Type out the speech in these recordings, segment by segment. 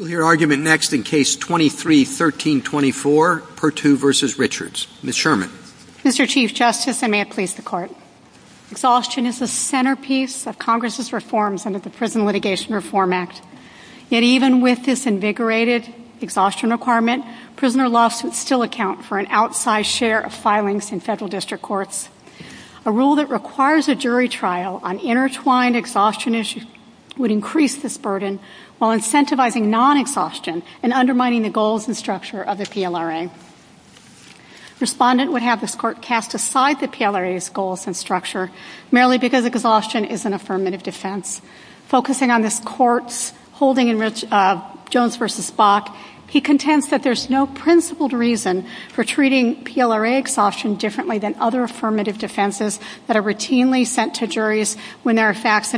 Mr. Chief Justice, I may have pleased the Court. Exhaustion is the centerpiece of Congress' reforms under the Prison Litigation Reform Act. Yet even with this invigorated exhaustion requirement, prisoner laws still account for an outsized share of filings in federal district courts. A rule that requires a jury trial on intertwined exhaustion issues would increase this burden while incentivizing non-exhaustion and undermining the goals and structure of the PLRA. Respondent would have this Court cast aside the PLRA's goals and structure merely because exhaustion is an affirmative defense. Focusing on this Court's holding in Jones v. Bach, he contends that there is no principled reason for treating PLRA exhaustion differently than other affirmative defenses that are routinely sent to juries when there Jones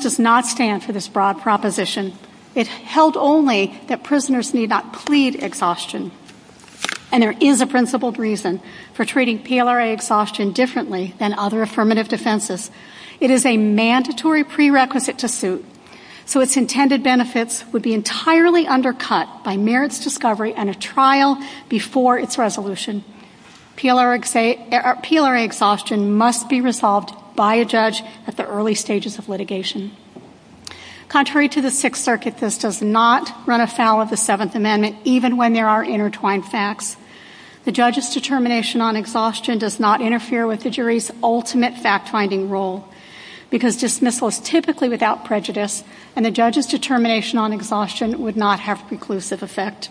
does not stand for this broad proposition. It is held only that prisoners need not plead exhaustion. And there is a principled reason for treating PLRA exhaustion differently than other affirmative defenses. It is a mandatory prerequisite to suit, so its intended benefits would be entirely undercut by merits discovery and a trial before its resolution. PLRA exhaustion must be resolved by a judge at the early stages of litigation. Contrary to the Sixth Circuit, this does not run afoul of the Seventh Amendment even when there are intertwined facts. The judge's determination on exhaustion does not interfere with the jury's ultimate fact-finding rule because dismissal is typically without prejudice and the judge's determination on exhaustion would not have conclusive effect.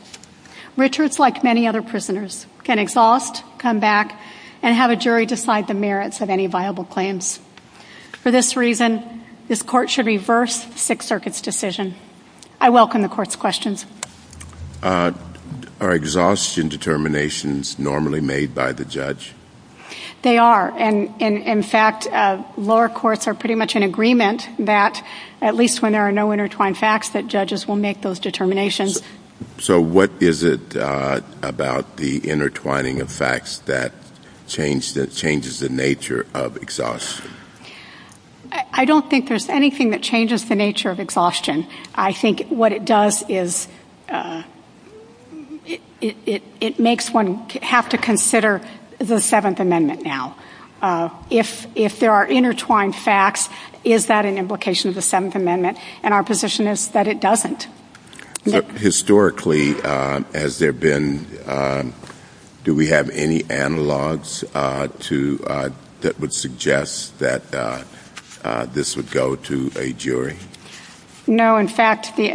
Richards, like many other prisoners, can exhaust, come back, and have a jury decide the merits of any viable claims. For this reason, this Court should reverse Sixth Circuit's decision. I welcome the Court's questions. Are exhaustion determinations normally made by the judge? They are, and in fact, lower courts are pretty much in agreement that, at least when there are no intertwined facts, that judges will make those determinations. So what is it about the intertwining of facts that changes the nature of exhaustion? I don't think there's anything that changes the nature of exhaustion. I think what it does is it makes one have to consider the Seventh Amendment now. If there are intertwined facts, is that an implication of the Seventh Amendment? And our position is that it doesn't. Historically, has there been, do we have any analogs that would suggest that this would go to a jury? No, in fact, the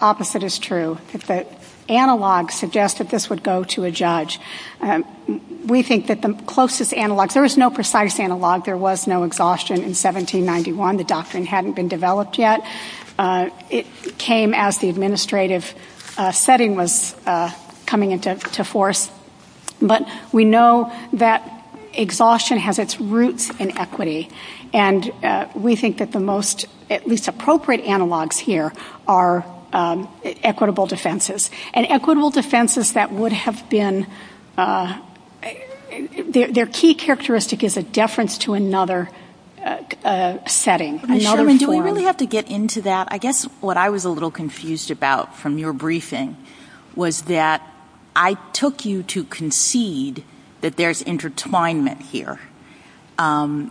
opposite is true. Analogs suggest that this would go to a judge. We think that the closest analog, there is no precise analog, there was no exhaustion in 1791. The doctrine hadn't been developed yet. It came as the administrative setting was coming into force. But we know that exhaustion has its roots in equity, and we think that the most, at least appropriate analogs here, are equitable defenses. And equitable defenses that would have been, their key characteristic is a deference to another. Do we really have to get into that? I guess what I was a little confused about from your briefing was that I took you to concede that there's intertwinement here. And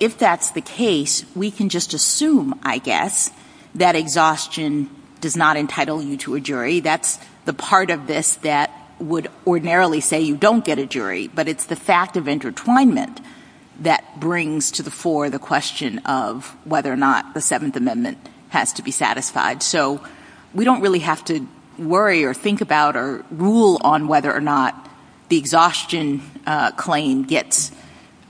if that's the case, we can just assume, I guess, that exhaustion does not entitle you to a jury. That's the part of this that would ordinarily say you don't get a jury. But it's the fact of intertwinement that brings to the fore the question of whether or not the Seventh Amendment has to be satisfied. So we don't really have to worry or think about or rule on whether or not the exhaustion claim gets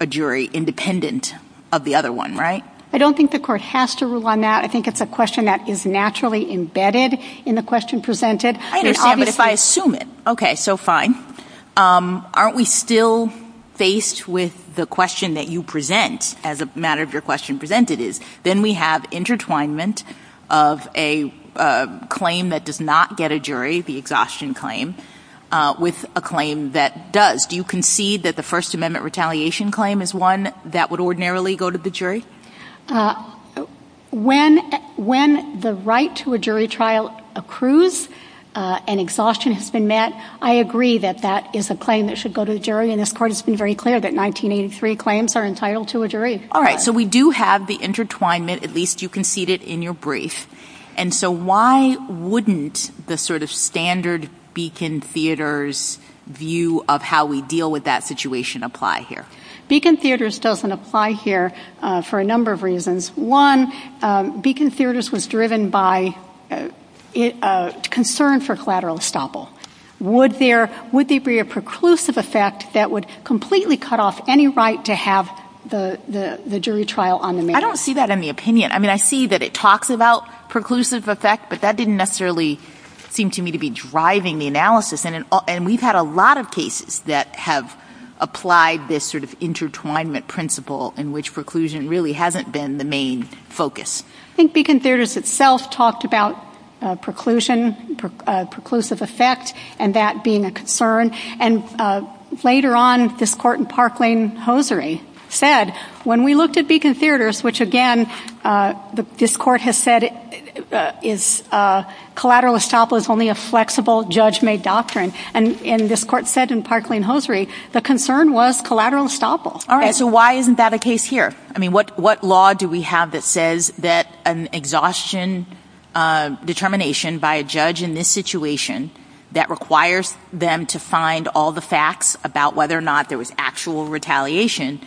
a jury independent of the other one, right? I don't think the court has to rule on that. I think it's a question that is naturally embedded in the question presented. I understand, but if I assume it, okay, so fine. Aren't we still faced with the question that you present as a matter of your question presented is? Then we have intertwinement of a claim that does not get a jury, the exhaustion claim, with a claim that does. Do you concede that the First Amendment retaliation claim is one that would ordinarily go to the jury? When the right to a jury trial accrues, and exhaustion has been met, I agree that that is a claim that should go to a jury. And this part has been very clear that 1983 claims are entitled to a jury. All right. So we do have the intertwinement, at least you conceded in your brief. And so why wouldn't the sort of standard Beacon Theaters view of how we deal with that situation apply here? Beacon Theaters doesn't apply here for a number of reasons. One, Beacon Theaters was driven by concern for collateral estoppel. Would there be a preclusive effect that would completely cut off any right to have the jury trial on the matter? I don't see that in the opinion. I mean, I see that it talks about preclusive effect, but that didn't necessarily seem to me to be driving the analysis. And we've had a lot of cases that have applied this sort of intertwinement principle in which preclusion really hasn't been the main focus. I think Beacon Theaters itself talked about preclusion, preclusive effect, and that being a concern. And later on, this court in Parkland-Hosiery said, when we looked at Beacon Theaters, which again, this court has said is collateral estoppel is only a flexible, judge-made doctrine. And this court said in Parkland-Hosiery, the concern was collateral estoppel. All right, so why isn't that a case here? I mean, what law do we have that says that an exhaustion determination by a judge in this situation that requires them to find all the facts about whether or not there was actual retaliation,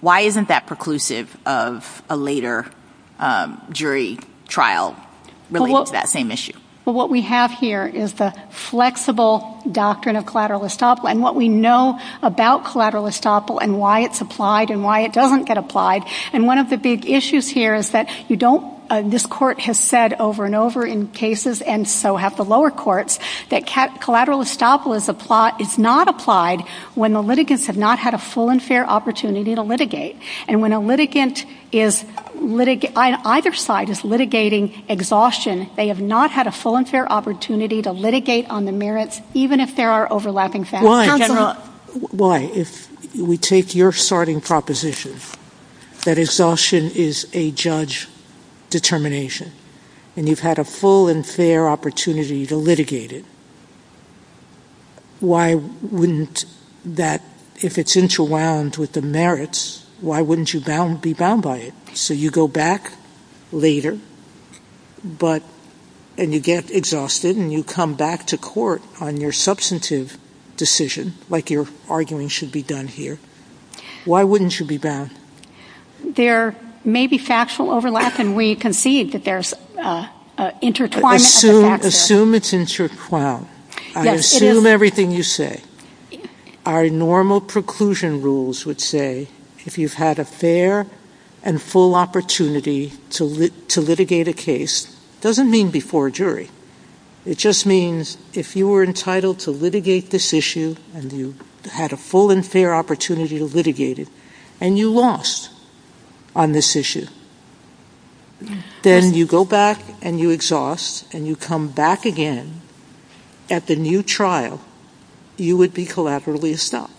why isn't that preclusive of a later jury trial related to that same issue? What we have here is the flexible doctrine of collateral estoppel and what we know about collateral estoppel and why it's applied and why it doesn't get applied. And one of the big issues here is that you don't, this court has said over and over in cases, and so have the lower courts, that collateral estoppel is not applied when the litigants have not had a full and fair opportunity to litigate. And when a litigant is, either side is litigating exhaustion, they have not had a full and fair opportunity to litigate on the merit, even if there are overlapping facts. Why? Why? If we take your starting proposition, that exhaustion is a judge determination and you've had a full and fair opportunity to litigate it, why wouldn't that, if it's interwound with the merits, why wouldn't you be bound by it? So you go back later, but, and you get exhausted and you come back to court on your substantive decision, like your arguing should be done here, why wouldn't you be bound? There may be factual overlap and we concede that there's intertwined. Assume it's intertwined. I assume everything you say. Our normal preclusion rules would say if you've had a fair and full opportunity to litigate a case, it doesn't mean before a jury. It just means if you were entitled to litigate this issue and you had a full and fair opportunity to litigate it, and you lost on this issue, then you go back and you exhaust and you come back again at the new trial, you would be collaterally estopped.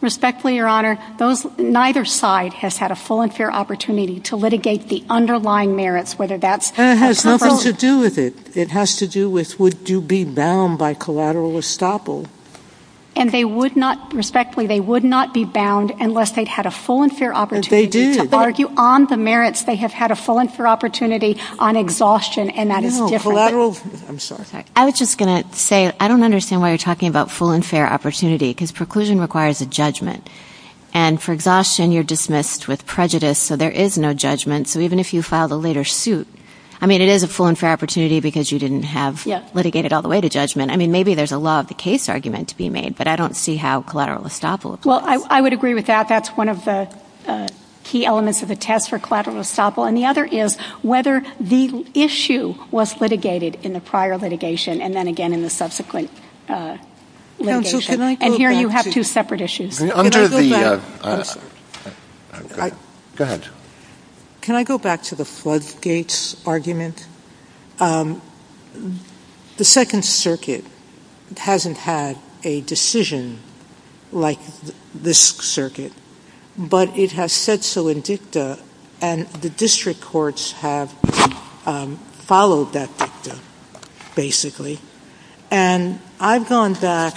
Respectfully, your honor, those, neither side has had a full and fair opportunity to litigate the underlying merits, whether that's... And it has nothing to do with it. It has to do with would you be bound by collateral estoppel. And they would not, respectfully, they would not be bound unless they'd had a full and fair opportunity. They did. On the merits, they have had a full and fair opportunity on exhaustion, and that is different. I was just going to say, I don't understand why you're talking about full and fair opportunity because preclusion requires a judgment. And for exhaustion, you're dismissed with prejudice, so there is no judgment. So even if you filed a later suit, I mean, it is a full and fair opportunity because you didn't have litigated all the way to judgment. I mean, maybe there's a law of the case argument to be made, but I don't see how collateral estoppel... Well, I would agree with that. That's one of the key elements of the test for collateral estoppel. And the other is whether the issue was litigated in the prior litigation and then again in the subsequent litigation. And here you have two separate issues. Under the... Go ahead. Can I go back to the floodgates argument? The Second Circuit hasn't had a decision like this circuit, but it has said so in dicta, and the district courts have followed that dicta, basically. And I've gone back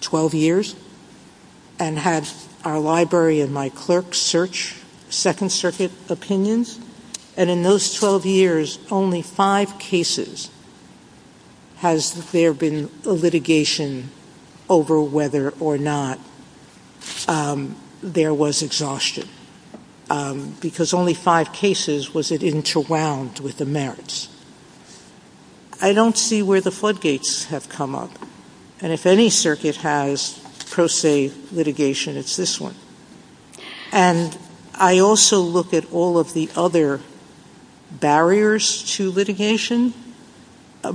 12 years and had our library and my clerk search Second Circuit opinions, and in those 12 years, only five cases has there been a litigation over whether or not there was exhaustion, because only five cases was it interwound with the merits. I don't see where the floodgates have come up. And if any circuit has pro se litigation, it's this one. And I also look at all of the other barriers to litigation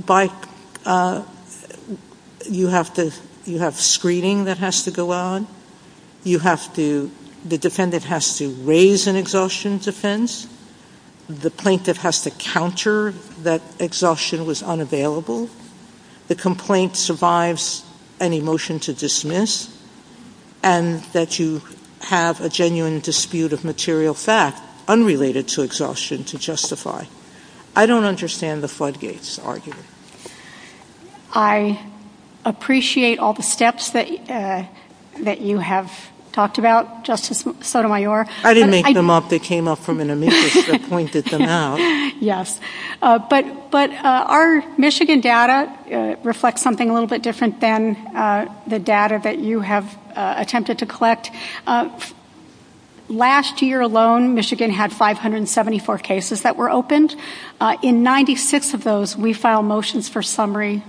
by... You have screening that has to go on. You have to... The defendant has to raise an exhaustion defense. The plaintiff has to counter that exhaustion was unavailable. The complaint survives any motion to dismiss, and that you have a genuine dispute of material fact unrelated to exhaustion to justify. I don't understand the floodgates argument. I appreciate all the steps that you have talked about, Justice Sotomayor. I didn't make them up. They came up from an amicus that pointed them out. Yes. But our Michigan data reflects something a little bit different than the data that you have attempted to collect. Last year alone, Michigan had 574 cases that were opened. In 96 of those, we filed motions for summary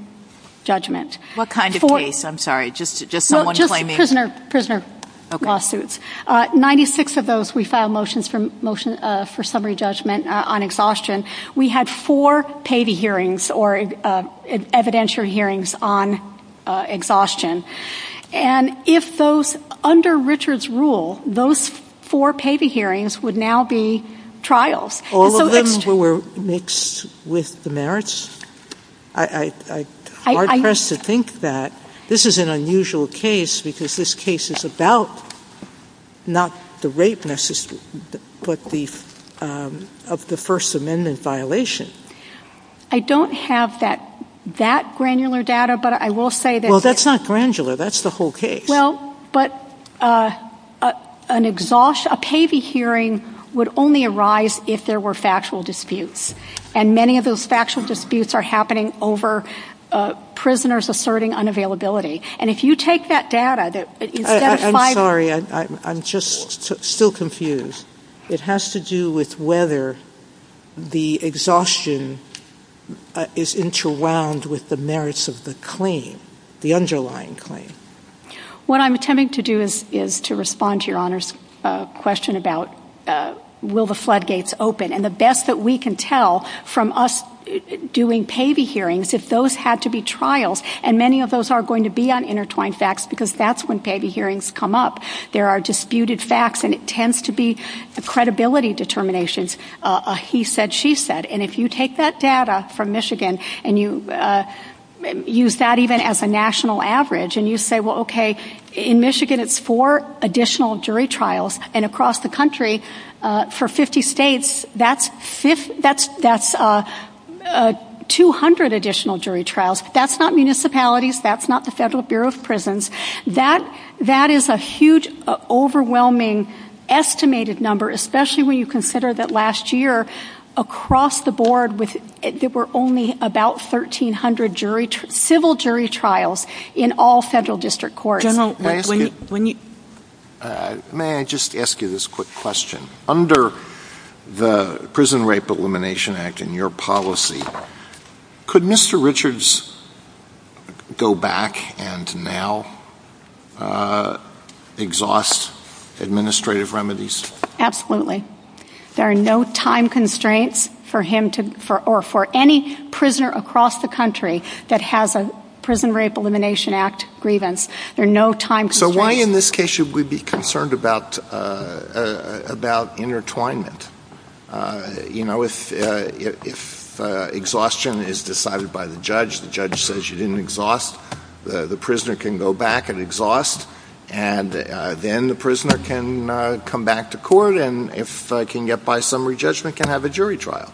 judgment. What kind of case? I'm sorry. Just someone claiming... Just prisoner lawsuits. 96 of those, we filed motions for summary judgment on exhaustion. We had four payee hearings or evidentiary hearings on exhaustion. And if those... Under Richard's rule, those four payee hearings would now be trials. All of them were mixed with the merits? I'm hard-pressed to think that. This is an unusual case because this case is about not the rape, but the First Amendment violation. I don't have that granular data, but I will say that... Well, that's not granular. That's the whole case. Well, but a payee hearing would only arise if there were factual disputes. And many of those factual disputes are happening over prisoners asserting unavailability. And if you take that data... I'm sorry. I'm just still confused. It has to do with whether the exhaustion is interwound with the merits of the claim, the underlying claim. What I'm attempting to do is to respond to Your Honor's question about will the floodgates open. And the best that we can tell from us doing payee hearings, if those had to be trials, and many of those are going to be on intertwined facts because that's when payee hearings come up. There are disputed facts, and it tends to be credibility determinations, a he said, she said. And if you take that data from Michigan and you use that even as a national average and you say, well, okay, in Michigan it's four additional jury trials, and across the country for 50 states, that's 200 additional jury trials. That's not municipalities. That's not the Federal Bureau of Prisons. That is a huge, overwhelming estimated number, especially when you consider that last year across the board there were only about 1,300 civil jury trials in all federal district courts. General, may I just ask you this quick question? Under the Prison Rape Elimination Act and your policy, could Mr. Richards go back and now exhaust administrative remedies? Absolutely. There are no time constraints for him to, or for any prisoner across the country that has a Prison Rape Elimination Act grievance. There are no time constraints. So why in this case should we be concerned about intertwinement? You know, if exhaustion is decided by the judge, the judge says you didn't exhaust, the prisoner can go back and exhaust, and then the prisoner can come back to court, and if can get by summary judgment, can have a jury trial.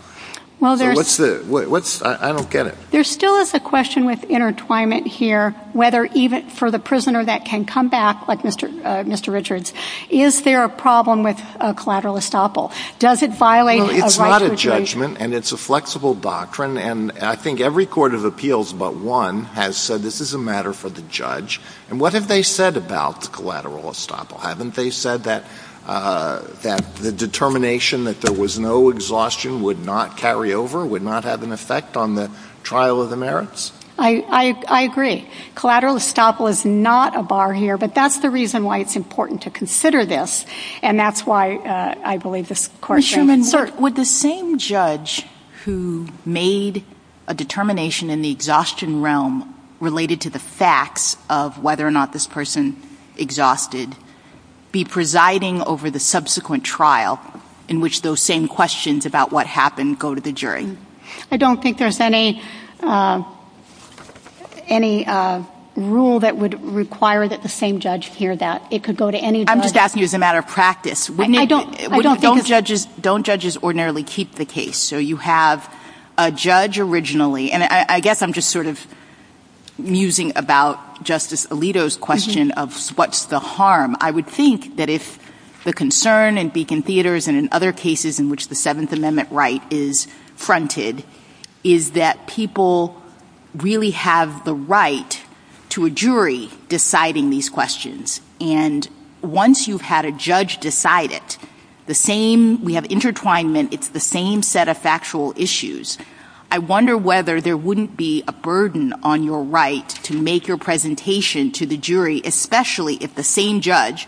I don't get it. There still is a question with intertwinement here, whether even for the prisoner that can come back, like Mr. Richards, is there a problem with collateral estoppel? Does it violate a right situation? It's not a judgment, and it's a flexible doctrine, and I think every court of appeals but one has said this is a matter for the judge. And what have they said about the collateral estoppel? Haven't they said that the determination that there was no exhaustion would not carry over, would not have an effect on the trial of the merits? I agree. Collateral estoppel is not a bar here, but that's the reason why it's important to consider this, and that's why I believe this question is important. Would the same judge who made a determination in the exhaustion realm related to the facts of whether or not this person exhausted be presiding over the subsequent trial in which those same questions about what happened go to the jury? I don't think there's any rule that would require that the same judge hear that. I'm just asking as a matter of practice. Don't judges ordinarily keep the case? So you have a judge originally, and I guess I'm just sort of musing about Justice Alito's question of what's the harm. I would think that if the concern in Beacon Theaters and in other cases in which the Seventh Amendment right is fronted is that people really have the right to a jury deciding these questions. And once you've had a judge decide it, the same, we have intertwinement, it's the same set of factual issues. I wonder whether there wouldn't be a burden on your right to make your presentation to the jury, especially if the same judge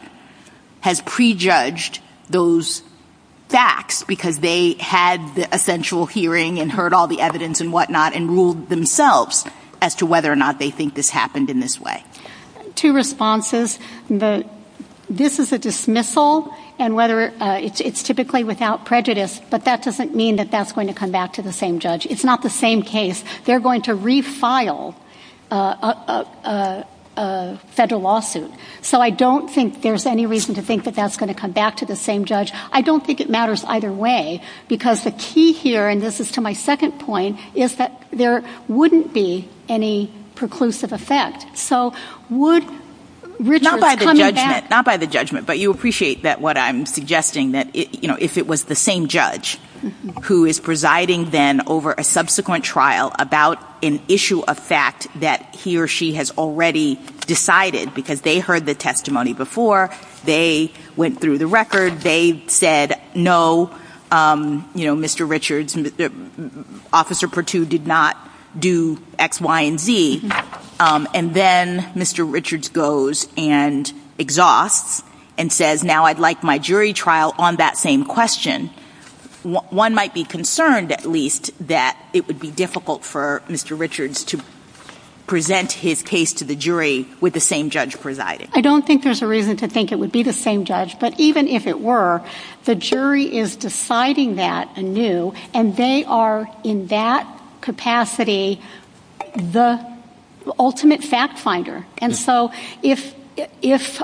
has prejudged those facts because they had the essential hearing and heard all the evidence and whatnot and ruled themselves as to whether or not they think this happened in this way. Two responses. This is a dismissal, and it's typically without prejudice, but that doesn't mean that that's going to come back to the same judge. It's not the same case. They're going to refile a federal lawsuit. So I don't think there's any reason to think that that's going to come back to the same judge. I don't think it matters either way, because the key here, and this is to my second point, is that there wouldn't be any preclusive effect. So would Richard's coming back... Not by the judgment, but you appreciate that what I'm suggesting, that if it was the same trial about an issue of fact that he or she has already decided, because they heard the testimony before, they went through the record, they said, no, Mr. Richards, Officer Perttu did not do X, Y, and Z, and then Mr. Richards goes and exhausts and says, now I'd like my Would it be difficult for Mr. Richards to present his case to the jury with the same judge presiding? I don't think there's a reason to think it would be the same judge, but even if it were, the jury is deciding that anew, and they are, in that capacity, the ultimate fact finder. And so if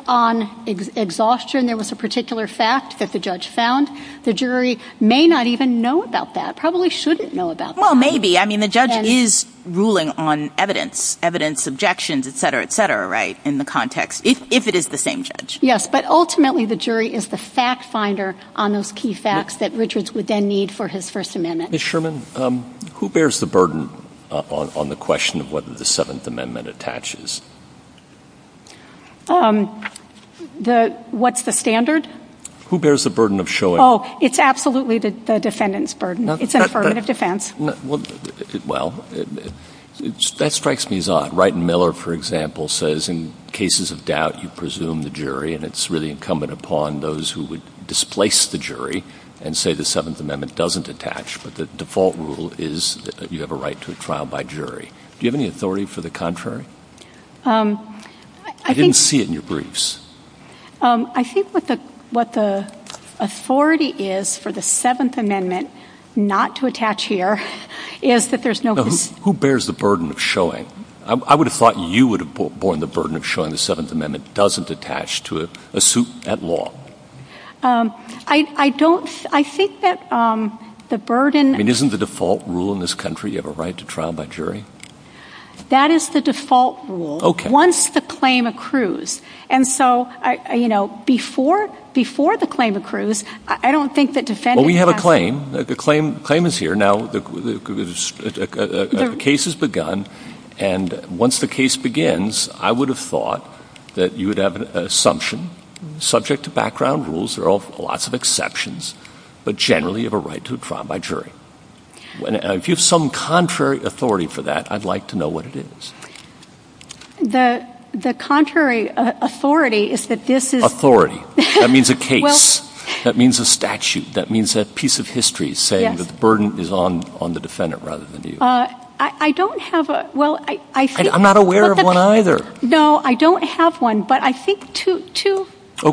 on exhaustion there was a particular fact that the judge found, the jury may not even know about that, probably shouldn't know about that. Well, maybe. I mean, the judge is ruling on evidence, evidence, objections, etc., etc., right, in the context, if it is the same judge. Yes, but ultimately the jury is the fact finder on those key facts that Richards would then need for his First Amendment. Ms. Sherman, who bears the burden on the question of whether the Seventh Amendment attaches? What's the standard? Who bears the burden of showing... Oh, it's absolutely the defendant's burden. It's a burden of defense. Well, that strikes me as odd. Wright and Miller, for example, says in cases of doubt, you presume the jury, and it's really incumbent upon those who would displace the jury and say the Seventh Amendment doesn't attach, but the default rule is that you have a right to a trial by jury. Do you have any authority for the contrary? I didn't see it in your briefs. I think what the authority is for the Seventh Amendment not to attach here is that there's no... Who bears the burden of showing? I would have thought you would have borne the burden of showing the Seventh Amendment doesn't attach to a suit at law. I don't... I think that the burden... I mean, isn't the default rule in this country you have a right to trial by jury? That is the default rule once the claim accrues. And so, you know, before the claim accrues, I don't think the defendant... Well, we have a claim. The claim is here. Now, the case has begun, and once the case begins, I would have thought that you would have an assumption, subject to background rules, there are lots of exceptions, but generally you have a right to a trial by jury. If you have some contrary authority for that, I'd like to know what it is. The contrary authority is that this is... Authority. That means a case. That means a statute. That means a piece of history saying that the burden is on the defendant rather than you. I don't have a... Well, I think... I'm not aware of one either. No, I don't have one, but I think two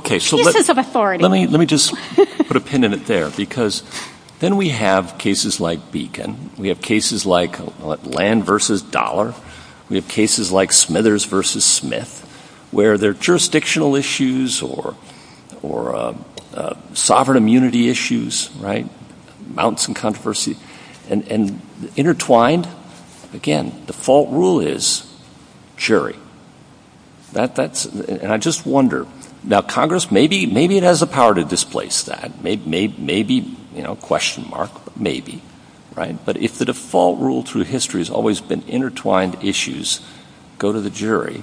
pieces of authority. Let me just put a pin in it there, because then we have cases like Beacon. We have cases like Land v. Dollar. We have cases like Smithers v. Smith, where there are jurisdictional issues or sovereign immunity issues, right? Mounts and controversies. And intertwined, again, default rule is jury. And I just wonder... Now, Congress, maybe it has the power to displace that. Maybe, you know, question mark, maybe, right? But if the default rule through history has always been intertwined issues, go to the jury.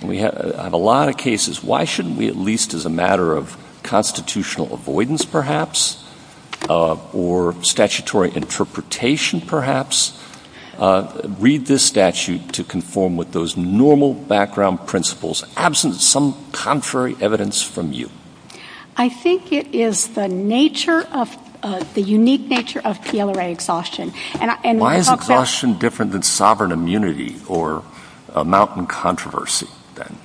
And we have a lot of cases. Why shouldn't we, at least as a matter of constitutional avoidance, perhaps, or statutory interpretation, perhaps, read this statute to conform with those normal background principles, absent some contrary evidence from you? I think it is the nature of... The unique nature of PLRA exhaustion. Why is exhaustion different than sovereign immunity or a mountain controversy, then?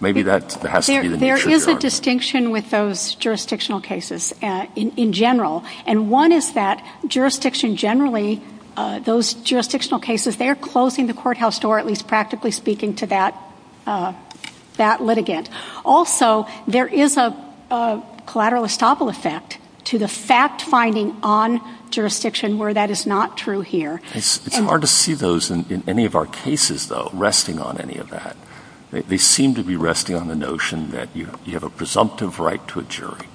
Maybe that has to be... There is a distinction with those jurisdictional cases in general. And one is that jurisdiction generally, those jurisdictional cases, they are closing the courthouse door, at least practically speaking, to that litigant. Also, there is a collateral estoppel effect to the fact-finding on jurisdiction where that is not true here. It's hard to see those in any of our cases, though, resting on any of that. They seem to be resting on the notion that you have a presumptive right to a jury.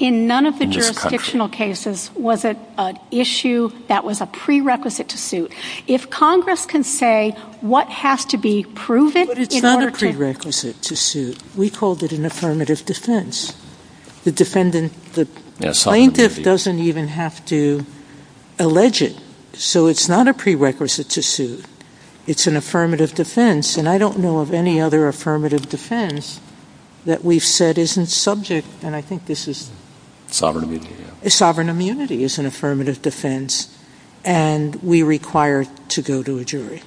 In none of the jurisdictional cases was it an issue that was a prerequisite to suit. If Congress can say what has to be proven in order to... But it's not a prerequisite to suit. We called it an affirmative defense. The plaintiff doesn't even have to allege it. So it's not a prerequisite to suit. It's an affirmative defense. And I don't know of any other affirmative defense that we've said isn't subject. And I think this is... Sovereign immunity. Sovereign immunity is an affirmative defense, and we require to go to a jury.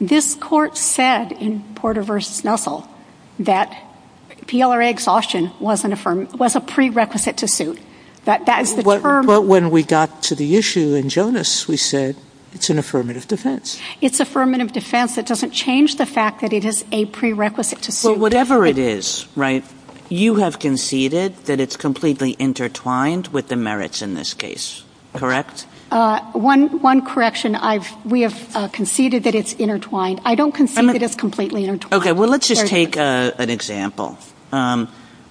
This Court said in Porter v. Snuffle that PLRA exhaustion was a prerequisite to suit. But when we got to the issue in Jonas, we said it's an affirmative defense. It's affirmative defense. It doesn't change the fact that it is a prerequisite to suit. Well, whatever it is, right, you have conceded that it's completely intertwined with the merits in this case. Correct? One correction. We have conceded that it's intertwined. I don't concede that it's completely intertwined. Okay. Well, let's just take an example,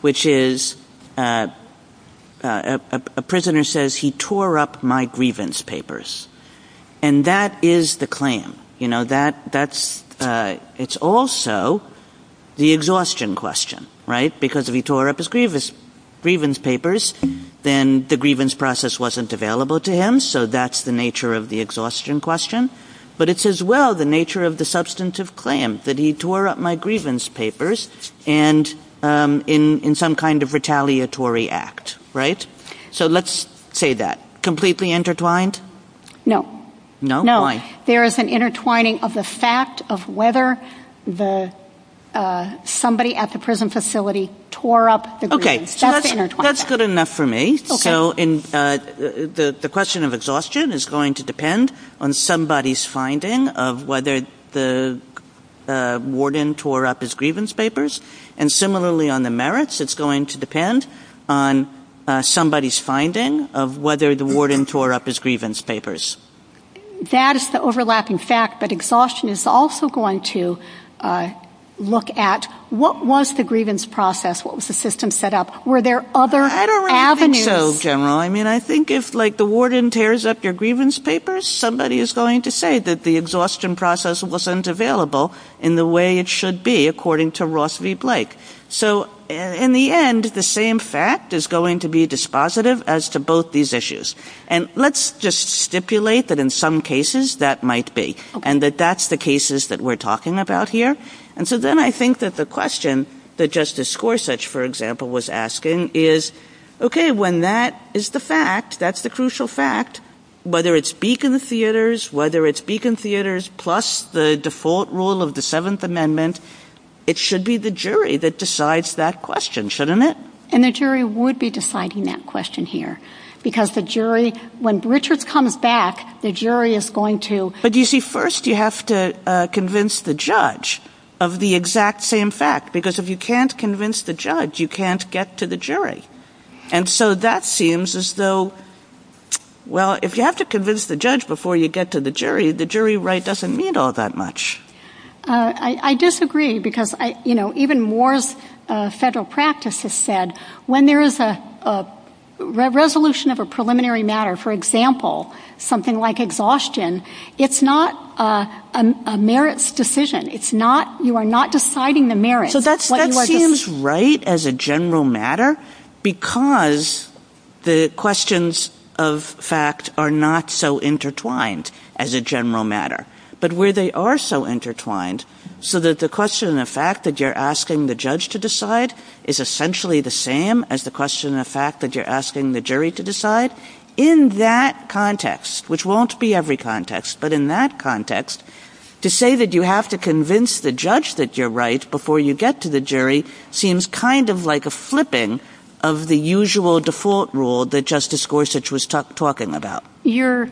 which is a prisoner says he tore up my grievance papers. And that is the claim. It's also the exhaustion question, right? Because if he tore up his grievance papers, then the grievance process wasn't available to him. So that's the nature of the exhaustion question. But it's as well the nature of the substantive claim, that he tore up my grievance papers in some kind of retaliatory act. Right? So let's say that. Completely intertwined? No. No? There is an intertwining of the fact of whether somebody at the prison facility tore up the grievance. Okay. That's good enough for me. So the question of exhaustion is going to depend on somebody's finding of whether the warden tore up his grievance papers. And similarly on the merits, it's going to depend on somebody's finding of whether the warden tore up his grievance papers. That is the overlapping fact that exhaustion is also going to look at what was the grievance process? What was the system set up? Were there other avenues? I don't think so, General. I mean, I think if like the warden tears up your grievance papers, somebody is going to say that the exhaustion process wasn't available in the way it should be, according to Ross v. Blake. So in the end, the same fact is going to be dispositive as to both these issues. And let's just stipulate that in some cases that might be, and that that's the cases that we're talking about here. And so then I think that the question that Justice Gorsuch, for example, was asking is, okay, when that is the fact, that's the crucial fact, whether it's Beacon Theatres, whether it's Beacon Theatres plus the default rule of the Seventh Amendment, it should be the jury that decides that question, shouldn't it? And the jury would be deciding that question here, because the jury, when Richard comes back, the jury is going to… But you see, first you have to convince the judge of the exact same fact, because if you can't convince the judge, you can't get to the jury. And so that seems as though, well, if you have to convince the judge before you get to the jury, the jury right doesn't mean all that much. I disagree, because even Moore's Federal Practice has said, when there is a resolution of a preliminary matter, for example, something like exhaustion, it's not a merits decision. You are not deciding the merits. So that seems right as a general matter, because the questions of fact are not so intertwined as a general matter. But where they are so intertwined, so that the question of fact that you're asking the judge to decide is essentially the same as the question of fact that you're asking the jury to decide. In that context, which won't be every context, but in that context, to say that you have to convince the judge that you're right before you get to the jury seems kind of like a flipping of the usual default rule that Justice Gorsuch was talking about. You're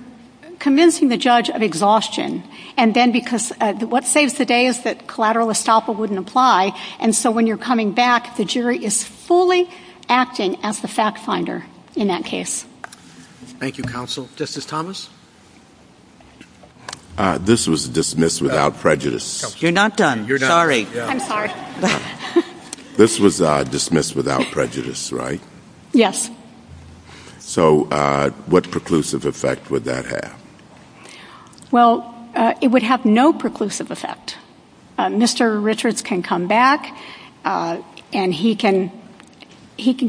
convincing the judge of exhaustion, and then because what saves the day is that collateral estoppel wouldn't apply, and so when you're coming back, the jury is fully acting as the fact finder in that case. Thank you, counsel. Justice Thomas? This was dismissed without prejudice. You're not done. Sorry. I'm sorry. This was dismissed without prejudice, right? Yes. So what preclusive effect would that have? Well, it would have no preclusive effect. Mr. Richards can come back, and he can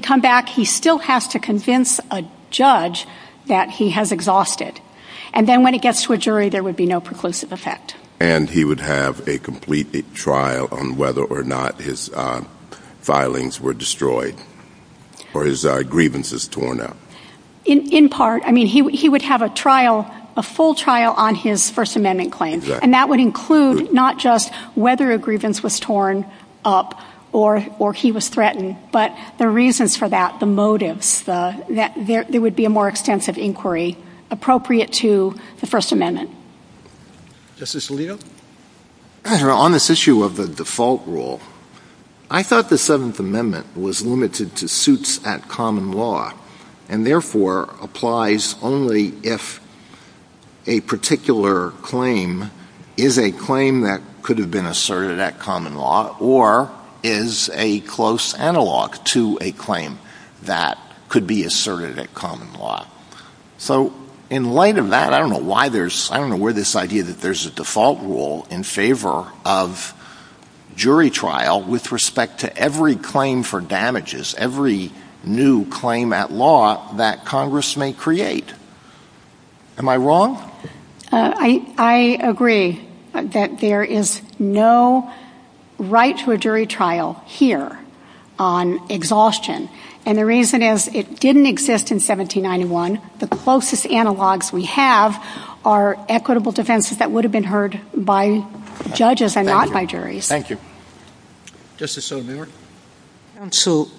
come back. He still has to convince a judge that he has exhausted. And then when it gets to a jury, there would be no preclusive effect. And he would have a complete trial on whether or not his filings were destroyed or his grievances torn up. In part. I mean, he would have a trial, a full trial on his First Amendment claim, and that would include not just whether a grievance was torn up or he was threatened, but the reasons for that, the motives, that there would be a more extensive inquiry appropriate to the First Amendment. Justice Alito? Your Honor, on this issue of the default rule, I thought the Seventh Amendment was limited to suits at common law, and therefore applies only if a particular claim is a claim that could have been asserted at common law or is a close analog to a claim that could be asserted at common law. So, in light of that, I don't know where this idea that there's a default rule in favor of jury trial with respect to every claim for damages, every new claim at law that Congress may create. Am I wrong? I agree that there is no right to a jury trial here on exhaustion. And the reason is, it didn't exist in 1791. The closest analogs we have are equitable defenses that would have been heard by judges and not by juries. Thank you. Justice O'Neill? Counsel,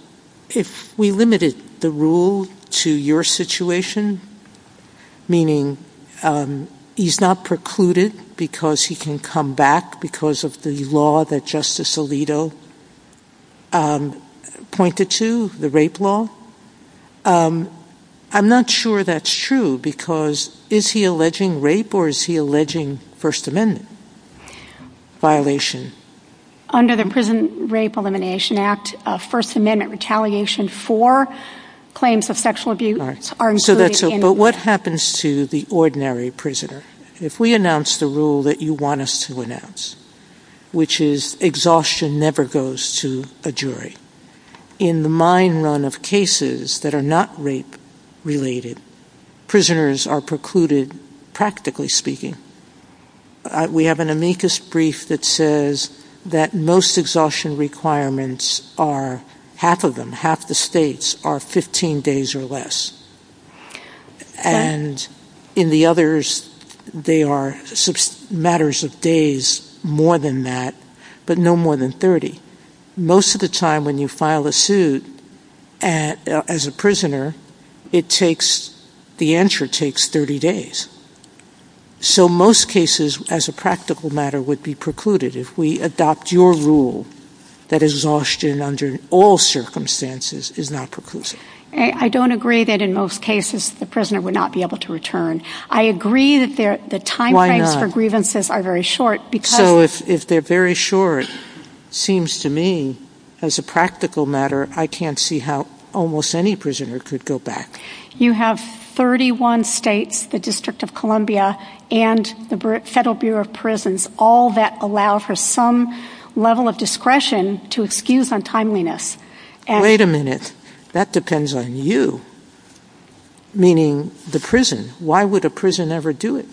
if we limited the rule to your situation, meaning he's not precluded because he can come back because of the law that Justice Alito pointed to, the rape law, I'm not sure that's true, because is he alleging rape or is he alleging First Amendment violation? Under the Prison Rape Elimination Act, First Amendment retaliation for claims of sexual abuse are included. But what happens to the ordinary prisoner? If we announce the rule that you want us to announce, which is exhaustion never goes to a jury, in the mine run of cases that are not rape-related, prisoners are precluded, practically speaking. So, in the case of an ordinary prisoner, we have an amicus brief that says that most exhaustion requirements are, half of them, half the states, are 15 days or less. And in the others, they are matters of days more than that, but no more than 30. Most of the time when you file a suit as a prisoner, the answer takes 30 days. So, most cases, as a practical matter, would be precluded. If we adopt your rule that exhaustion under all circumstances is not preclusive. I don't agree that in most cases the prisoner would not be able to return. I agree that the timeframes for grievances are very short. So, if they're very short, it seems to me, as a practical matter, I can't see how almost any prisoner could go back. You have 31 states, the District of Columbia, and the Federal Bureau of Prisons, all that allow for some level of discretion to excuse untimeliness. Wait a minute. That depends on you, meaning the prison. Why would a prison ever do it?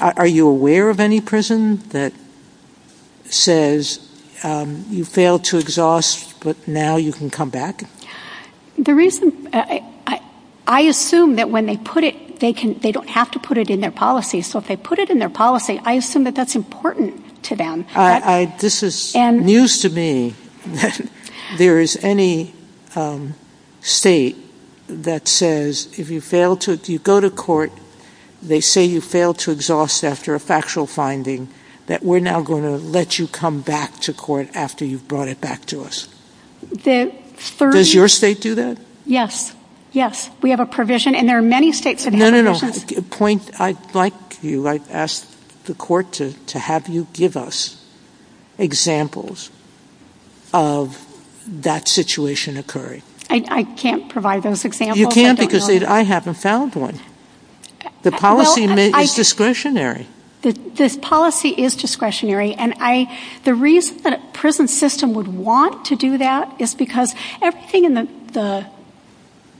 Are you aware of any prison that says, you failed to exhaust, but now you can come back? I assume that when they put it, they don't have to put it in their policy. So, if they put it in their policy, I assume that that's important to them. This is news to me. There is any state that says, if you go to court, they say you failed to exhaust after a factual finding, that we're now going to let you come back to court after you've brought it back to us. Does your state do that? Yes. Yes. We have a provision, and there are many states that have provisions. I'd like you, I'd ask the court to have you give us examples of that situation occurring. I can't provide those examples. You can't because I haven't found one. The policy is discretionary. This policy is discretionary, and the reason that a prison system would want to do that is because everything in the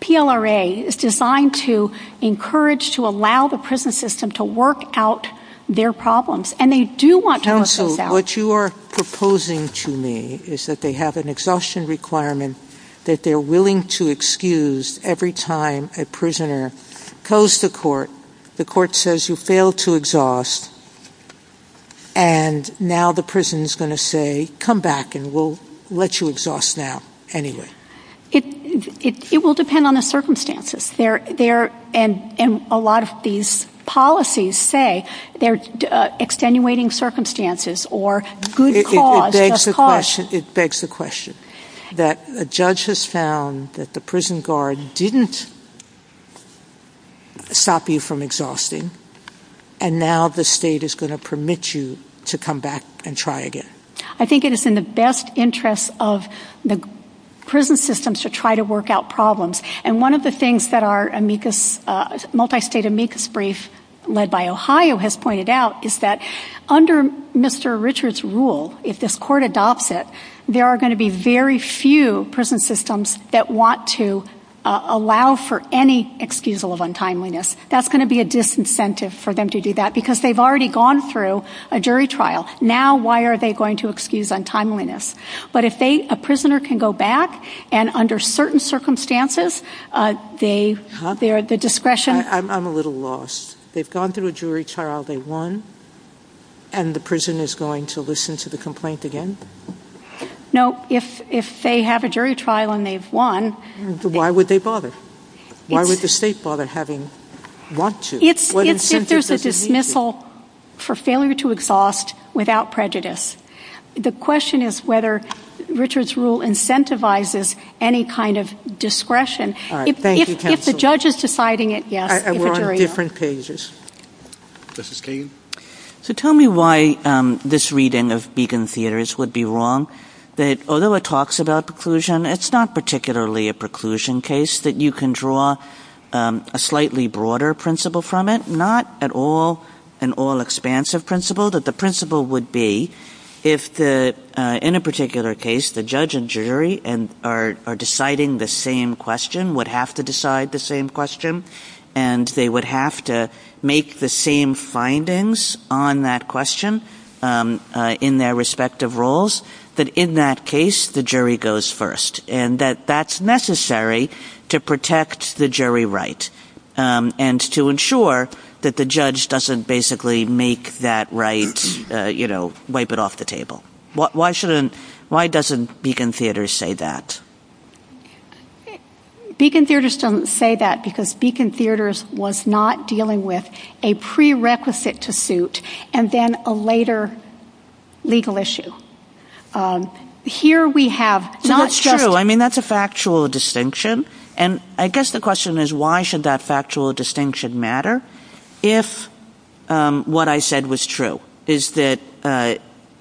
PLRA is designed to encourage, to allow the prison system to work out their problems, and they do want to work those out. So, what you are proposing to me is that they have an exhaustion requirement that they're willing to excuse every time a prisoner goes to court, the court says you failed to exhaust, and now the prison is going to say, come back and we'll let you exhaust now anyway. It will depend on the circumstances, and a lot of these policies say they're extenuating circumstances or good cause. It begs the question that a judge has found that the prison guard didn't stop you from exhausting, and now the state is going to permit you to come back and try again. I think it is in the best interest of the prison systems to try to work out problems, and one of the things that our multi-state amicus brief led by Ohio has pointed out is that under Mr. Richard's rule, if this court adopts it, there are going to be very few prison systems that want to allow for any excusal of untimeliness. That's going to be a disincentive for them to do that, because they've already gone through a jury trial. Now, why are they going to excuse untimeliness? But if a prisoner can go back, and under certain circumstances, they are at the discretion... I'm a little lost. They've gone through a jury trial, they won, and the prison is going to listen to the complaint again? No, if they have a jury trial and they've won... Why would they bother? Why would the state bother having... If there's a dismissal for failure to exhaust without prejudice, the question is whether Richard's rule incentivizes any kind of discretion. If the judge is deciding it, yes. We're on different pages. Justice Kagan? Tell me why this reading of Beacon Theatres would be wrong. Although it talks about preclusion, it's not particularly a preclusion case that you can draw a slightly broader principle from it. Not an all-expansive principle, but the principle would be if, in a particular case, the judge and jury are deciding the same question... would have to decide the same question, and they would have to make the same findings on that question in their respective roles... that, in that case, the jury goes first. And that that's necessary to protect the jury right, and to ensure that the judge doesn't basically make that right, you know, wipe it off the table. Why doesn't Beacon Theatres say that? Beacon Theatres doesn't say that because Beacon Theatres was not dealing with a prerequisite to suit, and then a later legal issue. Here we have... That's true. I mean, that's a factual distinction. And I guess the question is, why should that factual distinction matter if what I said was true? Is that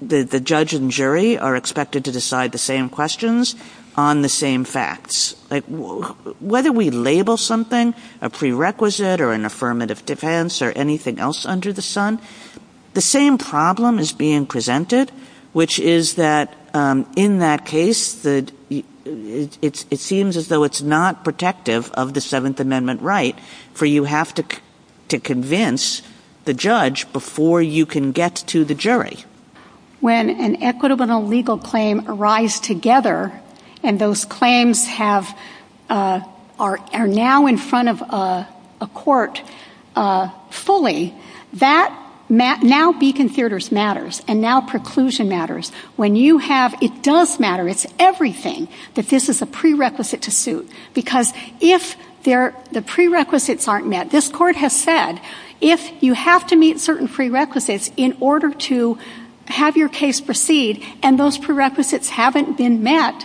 the judge and jury are expected to decide the same questions on the same facts? Whether we label something a prerequisite or an affirmative defense or anything else under the sun, the same problem is being presented... which is that, in that case, it seems as though it's not protective of the Seventh Amendment right, for you have to convince the judge before you can get to the jury. When an equitable and a legal claim arise together, and those claims are now in front of a court fully, that now Beacon Theatres matters. And now preclusion matters. When you have... It does matter. It's everything that this is a prerequisite to suit. Because if the prerequisites aren't met... This court has said, if you have to meet certain prerequisites in order to have your case proceed, and those prerequisites haven't been met,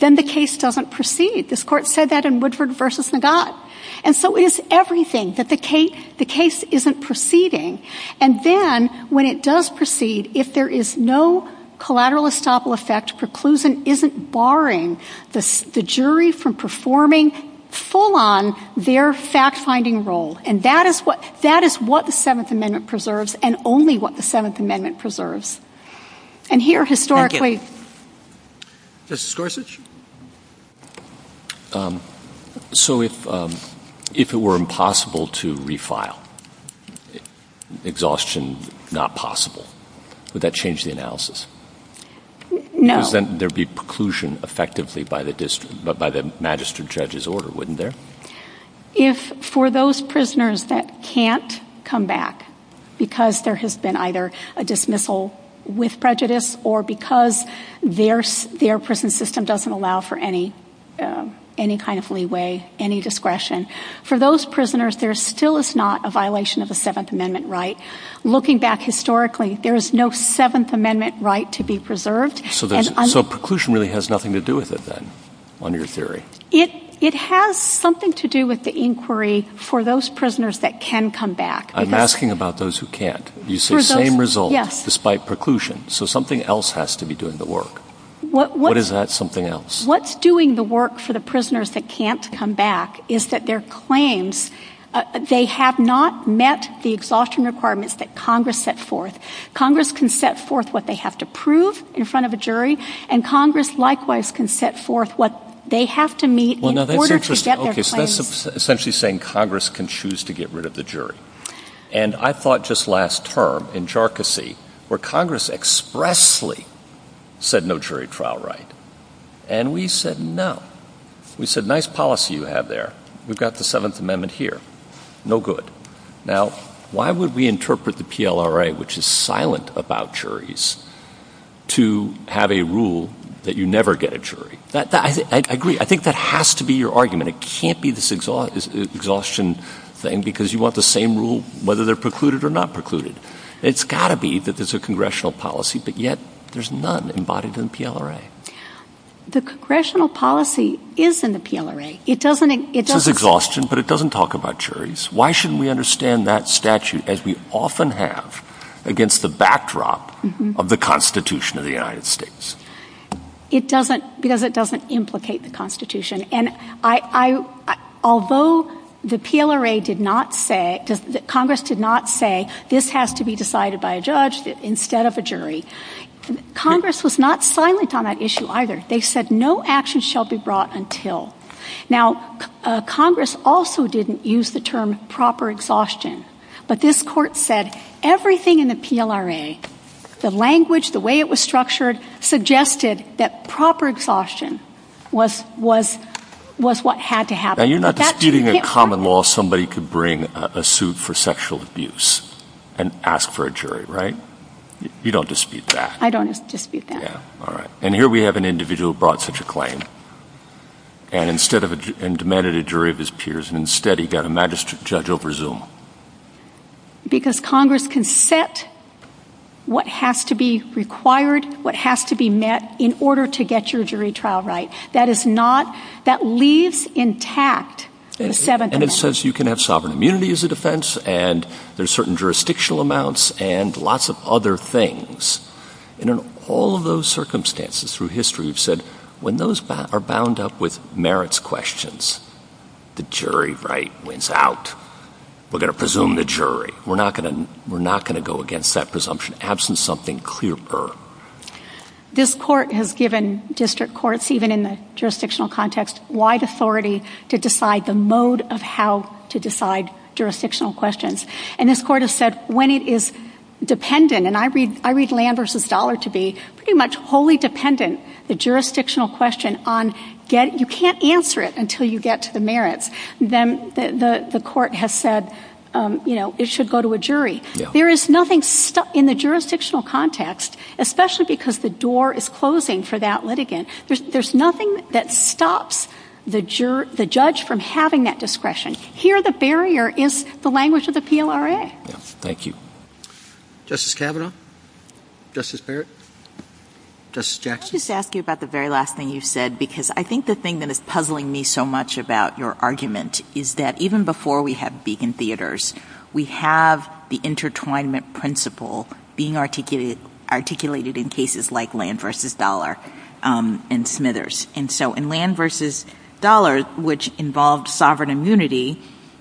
then the case doesn't proceed. This court said that in Woodford v. Nagat. And so it is everything that the case isn't proceeding. And then, when it does proceed, if there is no collateral estoppel effect, preclusion isn't barring the jury from performing full-on their fact-finding role. And that is what the Seventh Amendment preserves, and only what the Seventh Amendment preserves. And here, historically... Justice Gorsuch? So, if it were impossible to refile, exhaustion not possible, would that change the analysis? No. Because then there would be preclusion, effectively, by the magistrate judge's order, wouldn't there? If, for those prisoners that can't come back, because there has been either a dismissal with prejudice, or because their prison system doesn't allow for any kind of leeway, any discretion... For those prisoners, there still is not a violation of the Seventh Amendment right. Looking back historically, there is no Seventh Amendment right to be preserved. So, preclusion really has nothing to do with it, then, under your theory? It has something to do with the inquiry for those prisoners that can come back. I'm asking about those who can't. You said, same result, despite preclusion. So, something else has to be doing the work. What is that something else? What's doing the work for the prisoners that can't come back is that their claims... They have not met the exhaustion requirements that Congress set forth. Congress can set forth what they have to prove in front of a jury, and Congress, likewise, can set forth what they have to meet in order to get their claims... That's essentially saying Congress can choose to get rid of the jury. And I thought, just last term, in Jharkhasi, where Congress expressly said, no jury trial right. And we said, no. We said, nice policy you have there. We've got the Seventh Amendment here. No good. Now, why would we interpret the PLRA, which is silent about juries, to have a rule that you never get a jury? I agree. I think that has to be your argument. It can't be this exhaustion thing because you want the same rule, whether they're precluded or not precluded. It's got to be that there's a congressional policy, but yet there's none embodied in the PLRA. The congressional policy is in the PLRA. It doesn't... It says exhaustion, but it doesn't talk about juries. Why shouldn't we understand that statute, as we often have, against the backdrop of the Constitution of the United States? It doesn't... Because it doesn't implicate the Constitution. And I... Although the PLRA did not say... Congress did not say, this has to be decided by a judge instead of a jury, Congress was not silent on that issue either. They said, no action shall be brought until... Now, Congress also didn't use the term proper exhaustion. But this court said everything in the PLRA, the language, the way it was structured, suggested that proper exhaustion was what had to happen. Now, you're not disputing in common law somebody could bring a suit for sexual abuse and ask for a jury, right? You don't dispute that. I don't dispute that. And here we have an individual who brought such a claim. And instead of... And demanded a jury of his peers, and instead he got a magistrate judge of Brazil. Because Congress can set what has to be required, what has to be met, in order to get your jury trial right. That is not... That leaves intact the 7th Amendment. And it says you can have sovereign immunity as a defense, and there's certain jurisdictional amounts, and lots of other things. And in all of those circumstances through history, we've said when those are bound up with merits questions, the jury right wins out. We're going to presume the jury. We're not going to go against that presumption, absent something clearer. This court has given district courts, even in the jurisdictional context, wide authority to decide the mode of how to decide jurisdictional questions. And this court has said when it is dependent, and I read Landers' dollar to be pretty much wholly dependent, the jurisdictional question on... You can't answer it until you get to the merits. Then the court has said, you know, it should go to a jury. There is nothing... In the jurisdictional context, especially because the door is closing for that litigant, there's nothing that stops the judge from having that discretion. Here the barrier is the language of the PLRA. Thank you. Justice Kavanaugh? Justice Barrett? Justice Jackson? I'll just ask you about the very last thing you said, because I think the thing that is puzzling me so much about your argument is that even before we had Beacon Theatres, we have the intertwinement principle being articulated in cases like Land versus Dollar and Smithers. And so in Land versus Dollar, which involved sovereign immunity,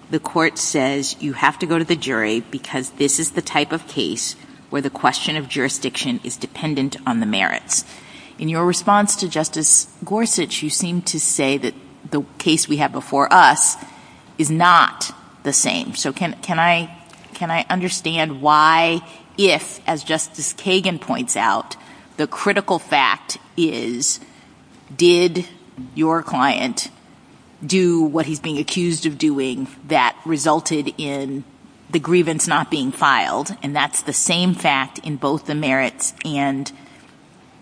the court says you have to go to the jury because this is the type of case where the question of jurisdiction is dependent on the merits. In your response to Justice Gorsuch, you seem to say that the case we have before us is not the same. So can I understand why, if, as Justice Kagan points out, the critical fact is, did your client do what he's being accused of doing that resulted in the grievance not being filed? And that's the same fact in both the merits and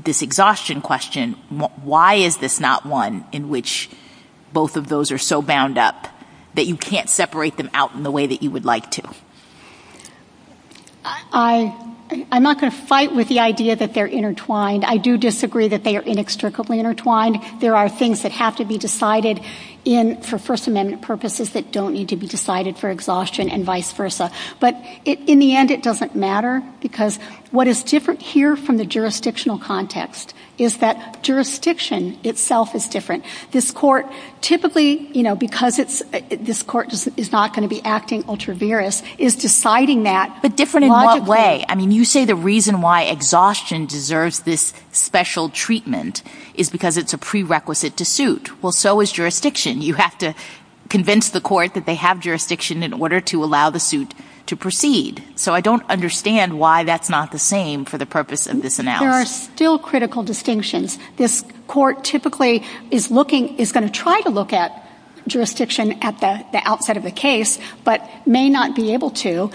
this exhaustion question. Why is this not one in which both of those are so bound up that you can't separate them out in the way that you would like to? I'm not going to fight with the idea that they're intertwined. I do disagree that they are inextricably intertwined. There are things that have to be decided for First Amendment purposes that don't need to be decided for exhaustion and vice versa. But in the end, it doesn't matter, because what is different here from the jurisdictional context is that jurisdiction itself is different. This court, typically, you know, because this court is not going to be acting ultra vires, is deciding that the different in what way. I mean, you say the reason why exhaustion deserves this special treatment is because it's a prerequisite to suit. Well, so is jurisdiction. You have to convince the court that they have jurisdiction in order to allow the suit to proceed. So I don't understand why that's not the same for the purpose of this. There are still critical distinctions. This court typically is looking is going to try to look at jurisdiction at the outset of the case, but may not be able to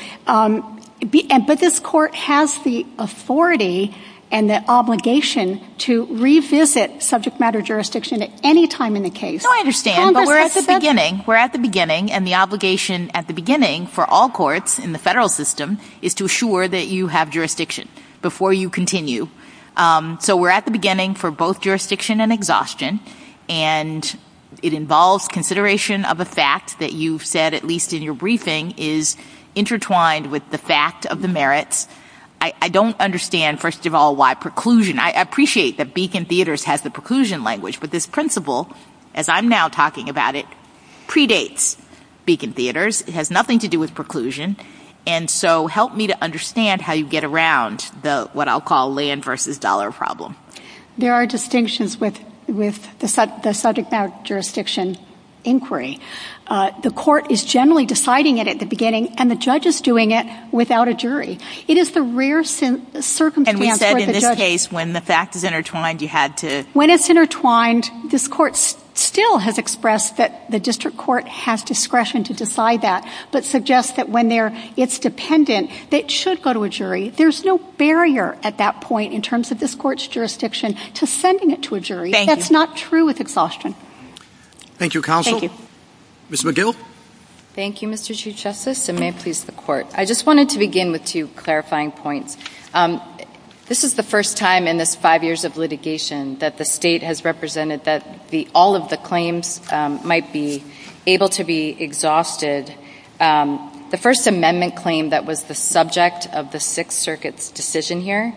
be. But this court has the authority and the obligation to revisit subject matter jurisdiction at any time in the case. I don't understand, but we're at the beginning. We're at the beginning, and the obligation at the beginning for all courts in the federal system is to assure that you have jurisdiction before you continue. So we're at the beginning for both jurisdiction and exhaustion, and it involves consideration of a fact that you've said, at least in your briefing, is intertwined with the fact of the merits. I don't understand, first of all, why preclusion. I appreciate that Beacon Theaters has the preclusion language, but this principle, as I'm now talking about it, predates Beacon Theaters. It has nothing to do with preclusion, and so help me to understand how you get around what I'll call land versus dollar problem. There are distinctions with the subject matter jurisdiction inquiry. The court is generally deciding it at the beginning, and the judge is doing it without a jury. It is the rare circumstance where the judge... And we said in this case, when the fact is intertwined, you had to... When it's intertwined, this court still has expressed that the district court has discretion to decide that, but suggests that when it's dependent, it should go to a jury. There's no barrier at that point in terms of this court's jurisdiction to sending it to a jury. Thank you. That's not true with exhaustion. Thank you, counsel. Thank you. Ms. McGill? Thank you, Mr. Chief Justice, and may it please the court. I just wanted to begin with two clarifying points. This is the first time in this five years of litigation that the state has represented that all of the claims might be able to be exhausted. The First Amendment claim that was the subject of the Sixth Circuit's decision here,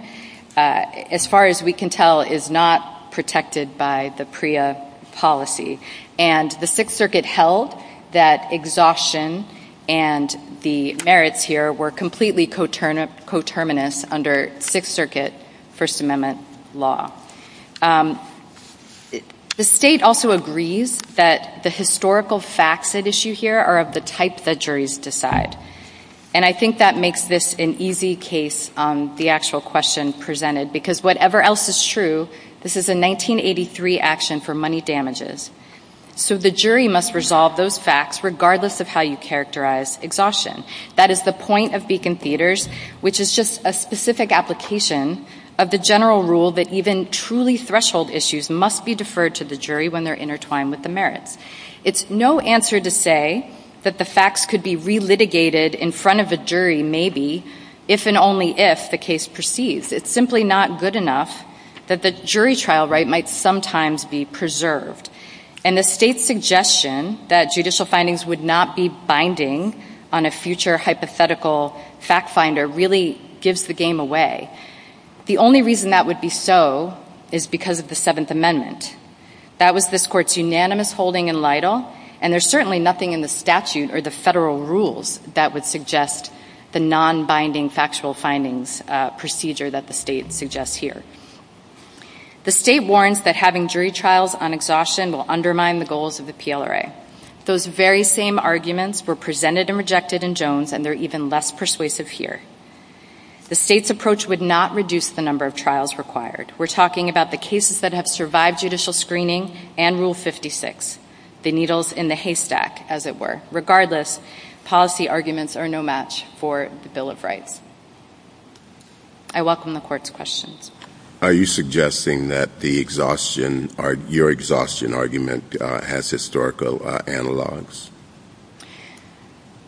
as far as we can tell, is not protected by the PREA policy. And the Sixth Circuit held that exhaustion and the merits here were completely coterminous under Sixth Circuit First Amendment law. The state also agrees that the historical facts at issue here are of the type that juries decide. And I think that makes this an easy case, the actual question presented, because whatever else is true, this is a 1983 action for money damages. So the jury must resolve those facts regardless of how you characterize exhaustion. That is the point of Beacon Theaters, which is just a specific application of the general rule that even truly threshold issues must be deferred to the jury when they're intertwined with the merits. It's no answer to say that the facts could be relitigated in front of the jury, maybe, if and only if the case proceeds. It's simply not good enough that the jury trial right might sometimes be preserved. And the state's suggestion that judicial findings would not be binding on a future hypothetical fact finder really gives the game away. The only reason that would be so is because of the Seventh Amendment. That was this court's unanimous holding in Lytle, and there's certainly nothing in the statute or the federal rules that would suggest the non-binding factual findings procedure that the state suggests here. The state warrants that having jury trials on exhaustion will undermine the goals of the PLRA. Those very same arguments were presented and rejected in Jones, and they're even less persuasive here. The state's approach would not reduce the number of trials required. We're talking about the cases that have survived judicial screening and Rule 56, the needles in the haystack, as it were. Regardless, policy arguments are no match for the Bill of Rights. I welcome the Court's questions. Are you suggesting that your exhaustion argument has historical analogs?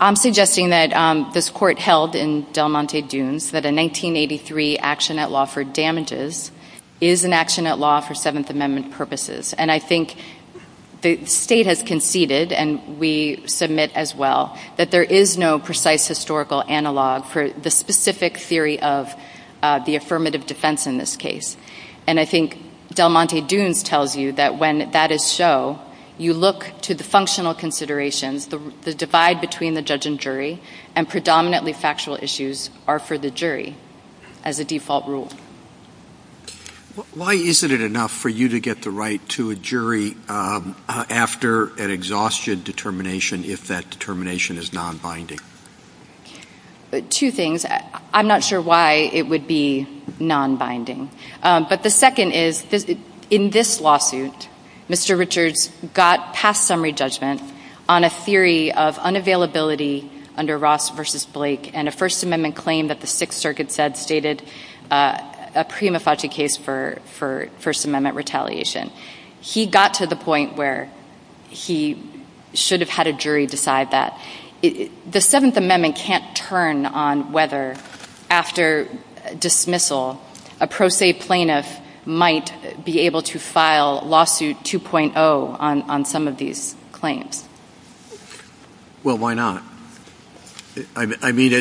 I'm suggesting that this court held in Del Monte Dunes that a 1983 action at law for damages is an action at law for Seventh Amendment purposes. And I think the state has conceded, and we submit as well, that there is no precise historical analog for the specific theory of the affirmative defense in this case. And I think Del Monte Dunes tells you that when that is so, you look to the functional considerations. The divide between the judge and jury and predominantly factual issues are for the jury as a default rule. Why isn't it enough for you to get the right to a jury after an exhaustion determination if that determination is non-binding? Two things. I'm not sure why it would be non-binding. But the second is, in this lawsuit, Mr. Richards got past summary judgment on a theory of unavailability under Ross v. Blake and a First Amendment claim that the Sixth Circuit said stated a prima facie case for First Amendment retaliation. He got to the point where he should have had a jury decide that. The Seventh Amendment can't turn on whether, after dismissal, a pro se plaintiff might be able to file lawsuit 2.0 on some of these claims. Well, why not? I mean,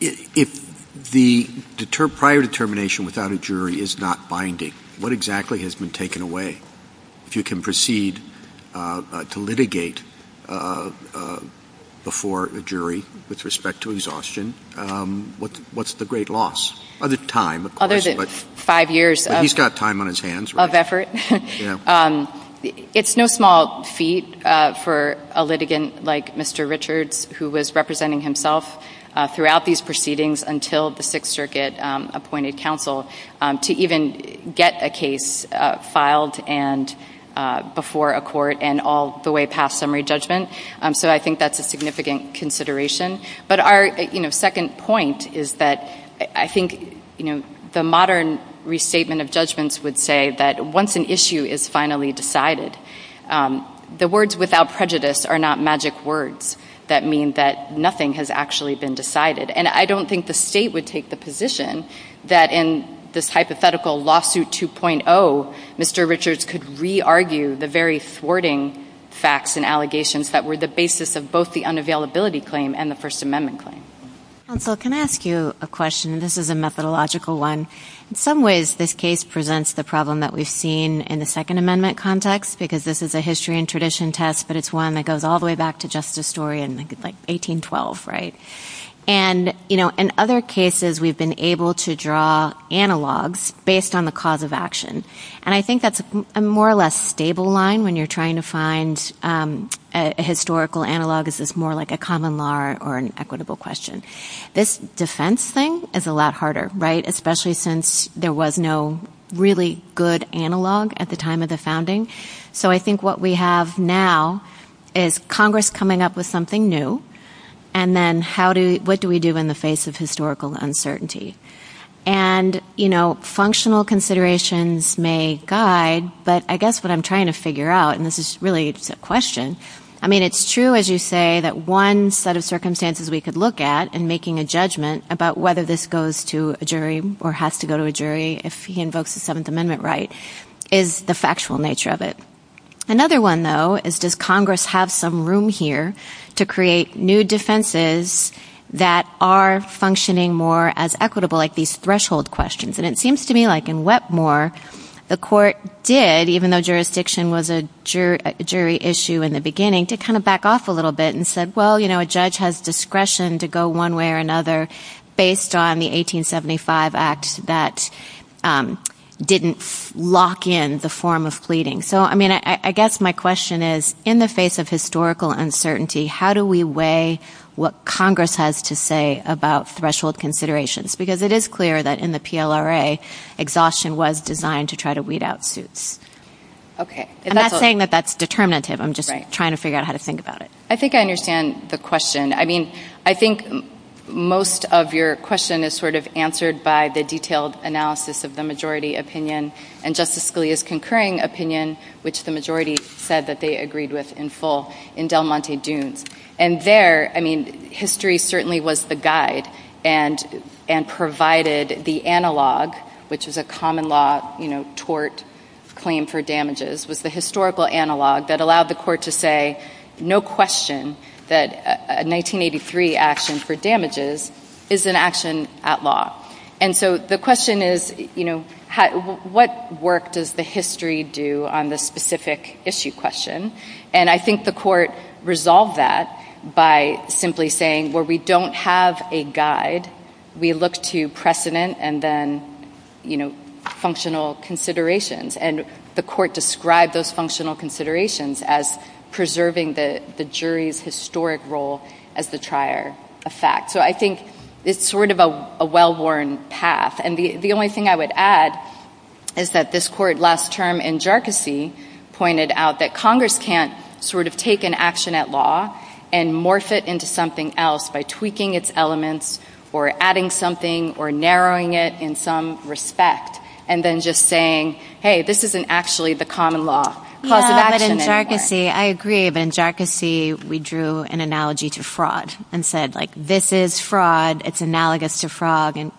if the prior determination without a jury is not binding, what exactly has been taken away? If you can proceed to litigate before a jury with respect to exhaustion, what's the great loss? Other than time, of course, but he's got time on his hands, right? Of effort. It's no small feat for a litigant like Mr. Richards, who was representing himself throughout these proceedings until the Sixth Circuit appointed counsel, to even get a case filed before a court and all the way past summary judgment. So I think that's a significant consideration. But our second point is that I think the modern restatement of judgments would say that once an issue is finally decided, the words without prejudice are not magic words that mean that nothing has actually been decided. And I don't think the state would take the position that in this hypothetical lawsuit 2.0, Mr. Richards could re-argue the very thwarting facts and allegations that were the basis of both the unavailability claim and the First Amendment claim. Counsel, can I ask you a question? This is a methodological one. In some ways, this case presents the problem that we've seen in the Second Amendment context, because this is a history and tradition test, but it's one that goes all the way back to just a story in 1812, right? And in other cases, we've been able to draw analogs based on the cause of action. And I think that's a more or less stable line when you're trying to find a historical analog. Is this more like a common law or an equitable question? This defense thing is a lot harder, right, especially since there was no really good analog at the time of the founding. So I think what we have now is Congress coming up with something new, and then what do we do in the face of historical uncertainty? And, you know, functional considerations may guide, but I guess what I'm trying to figure out, and this is really just a question, I mean, it's true, as you say, that one set of circumstances we could look at in making a judgment about whether this goes to a jury or has to go to a jury if he invokes the Seventh Amendment right is the factual nature of it. Another one, though, is does Congress have some room here to create new defenses that are functioning more as equitable, like these threshold questions? And it seems to me like in Wetmore, the court did, even though jurisdiction was a jury issue in the beginning, to kind of back off a little bit and said, well, you know, a judge has discretion to go one way or another based on the 1875 Act that didn't lock in the form of pleading. So, I mean, I guess my question is, in the face of historical uncertainty, how do we weigh what Congress has to say about threshold considerations? Because it is clear that in the PLRA, exhaustion was designed to try to weed out suits. I'm not saying that that's determinative. I'm just trying to figure out how to think about it. I think I understand the question. I mean, I think most of your question is sort of answered by the detailed analysis of the majority opinion and Justice Scalia's concurring opinion, which the majority said that they agreed with in full in Del Monte Dunes. And there, I mean, history certainly was the guide and provided the analog, which is a common law, you know, tort claim for damages, with the historical analog that allowed the court to say no question that a 1983 action for damages is an action at law. And so the question is, you know, what work does the history do on this specific issue question? And I think the court resolved that by simply saying, well, we don't have a guide. We look to precedent and then, you know, functional considerations. And the court described those functional considerations as preserving the jury's historic role as the trier of fact. So I think it's sort of a well-worn path. And the only thing I would add is that this court last term in Jercosy pointed out that Congress can't sort of take an action at law and morph it into something else by tweaking its elements or adding something or narrowing it in some respect and then just saying, hey, this isn't actually the common law. But in Jercosy, I agree. But in Jercosy, we drew an analogy to fraud and said, like, this is fraud. It's analogous to fraud and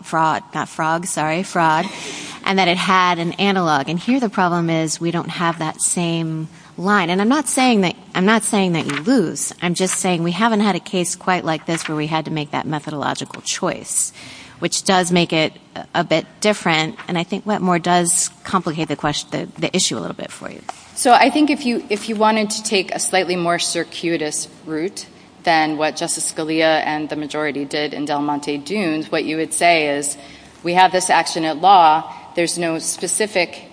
that it had an analog. And here the problem is we don't have that same line. And I'm not saying that you lose. I'm just saying we haven't had a case quite like this where we had to make that methodological choice, which does make it a bit different, and I think what more does complicate the issue a little bit for you. So I think if you wanted to take a slightly more circuitous route than what Justice Scalia and the majority did in Del Monte Dunes, what you would say is we have this action at law. There's no specific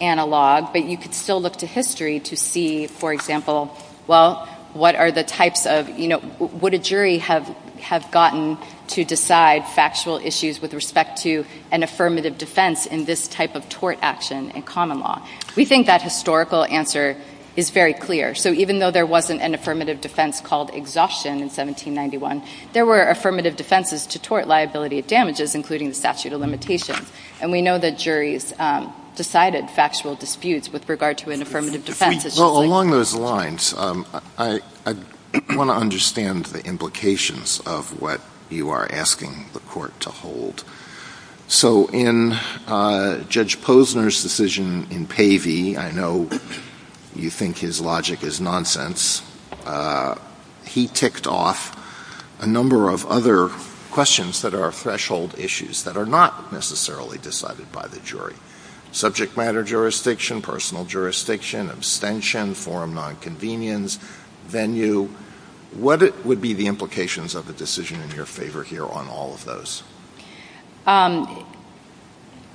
analog, but you could still look to history to see, for example, well, what are the types of, you know, would a jury have gotten to decide factual issues with respect to an affirmative defense in this type of tort action in common law? We think that historical answer is very clear. So even though there wasn't an affirmative defense called exhaustion in 1791, there were affirmative defenses to tort liability of damages, including the statute of limitations. And we know that juries decided factual disputes with regard to an affirmative defense. Well, along those lines, I want to understand the implications of what you are asking the court to hold. So in Judge Posner's decision in Pavey, I know you think his logic is nonsense. He kicked off a number of other questions that are threshold issues that are not necessarily decided by the jury. Subject matter jurisdiction, personal jurisdiction, abstention, forum nonconvenience, venue. What would be the implications of a decision in your favor here on all of those?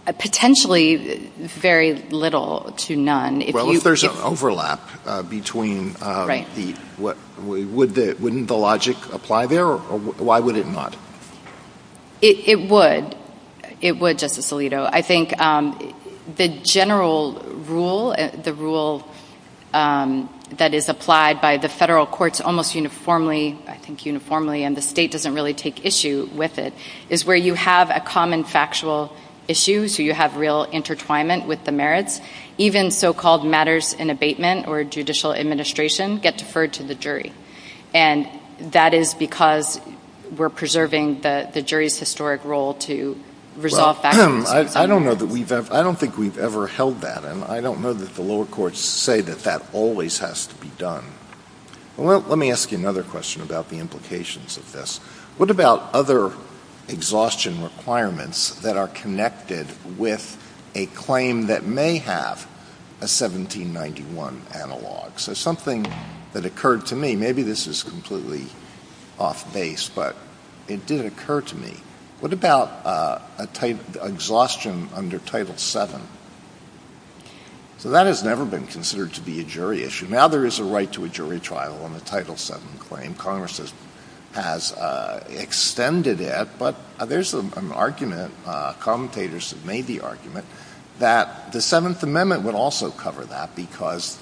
Potentially very little to none. Well, if there's an overlap between the – wouldn't the logic apply there, or why would it not? It would. It would, Justice Alito. I think the general rule, the rule that is applied by the federal courts almost uniformly, I think uniformly and the state doesn't really take issue with it, is where you have a common factual issue. So you have real intertwinement with the merits. Even so-called matters in abatement or judicial administration get deferred to the jury. And that is because we're preserving the jury's historic role to resolve factual disputes. I don't know that we've ever – I don't think we've ever held that, and I don't know that the lower courts say that that always has to be done. Let me ask you another question about the implications of this. What about other exhaustion requirements that are connected with a claim that may have a 1791 analog? So something that occurred to me – maybe this is completely off base, but it did occur to me. What about exhaustion under Title VII? So that has never been considered to be a jury issue. Now there is a right to a jury trial on the Title VII claim. Congress has extended it, but there's an argument, commentators have made the argument, that the Seventh Amendment would also cover that because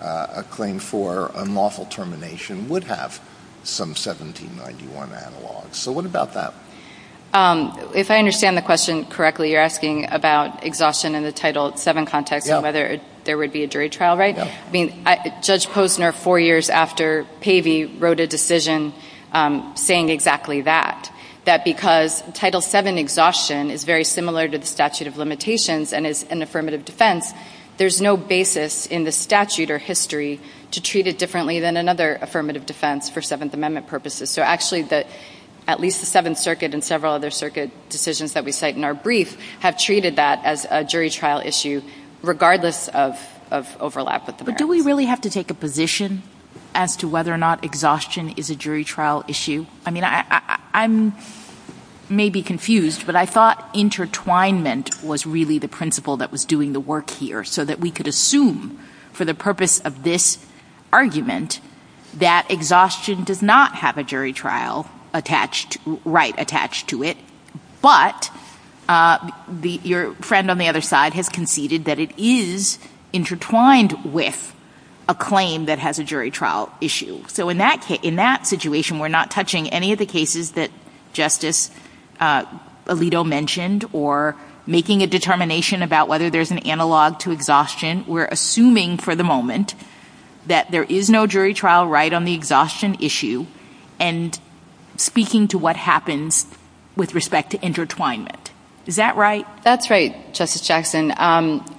a claim for unlawful termination would have some 1791 analog. So what about that? If I understand the question correctly, you're asking about exhaustion in the Title VII context and whether there would be a jury trial, right? I mean, Judge Posner, four years after Pavey, wrote a decision saying exactly that, that because Title VII exhaustion is very similar to the statute of limitations and is an affirmative defense, there's no basis in the statute or history to treat it differently than another affirmative defense for Seventh Amendment purposes. So actually, at least the Seventh Circuit and several other circuit decisions that we cite in our brief have treated that as a jury trial issue regardless of overlap. But do we really have to take a position as to whether or not exhaustion is a jury trial issue? I mean, I may be confused, but I thought intertwinement was really the principle that was doing the work here so that we could assume for the purpose of this argument that exhaustion does not have a jury trial right attached to it, but your friend on the other side has conceded that it is intertwined with a claim that has a jury trial issue. So in that situation, we're not touching any of the cases that Justice Alito mentioned or making a determination about whether there's an analog to exhaustion. We're assuming for the moment that there is no jury trial right on the exhaustion issue and speaking to what happens with respect to intertwinement. Is that right? That's right, Justice Jackson.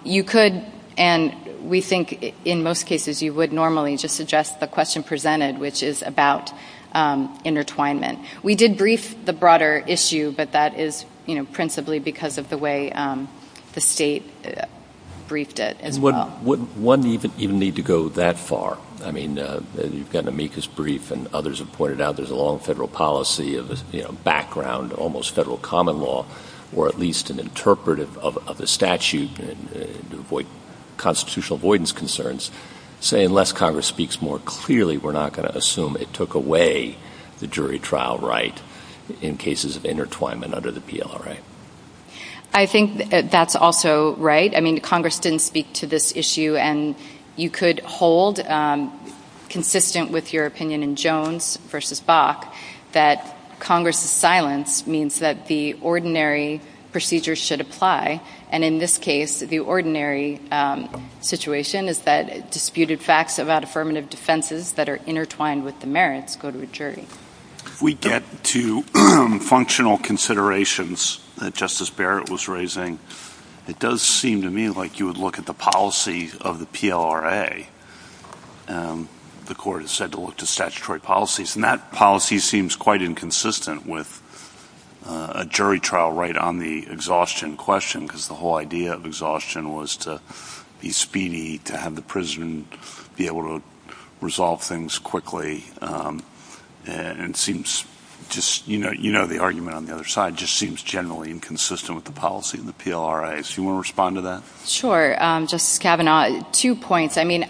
You could, and we think in most cases you would normally, just suggest the question presented, which is about intertwinement. We did brief the broader issue, but that is principally because of the way the state briefed it as well. Wouldn't one even need to go that far? I mean, you've got to make this brief, and others have pointed out there's a long federal policy of background, almost federal common law, or at least an interpretive of the statute, constitutional avoidance concerns, unless Congress speaks more clearly, we're not going to assume it took away the jury trial right in cases of intertwinement under the PLRA. I think that's also right. I mean, Congress didn't speak to this issue, and you could hold consistent with your opinion in Jones v. Bok that Congress's silence means that the ordinary procedure should apply, and in this case, the ordinary situation is that disputed facts about affirmative defenses that are intertwined with the merits go to a jury. We get to functional considerations that Justice Barrett was raising. It does seem to me like you would look at the policy of the PLRA. The Court has said to look to statutory policies, and that policy seems quite inconsistent with a jury trial right on the exhaustion question, because the whole idea of exhaustion was to be speedy, to have the prison be able to resolve things quickly, and it seems just, you know the argument on the other side, just seems generally inconsistent with the policy of the PLRA. Do you want to respond to that? Sure, Justice Kavanaugh. Two points. I mean,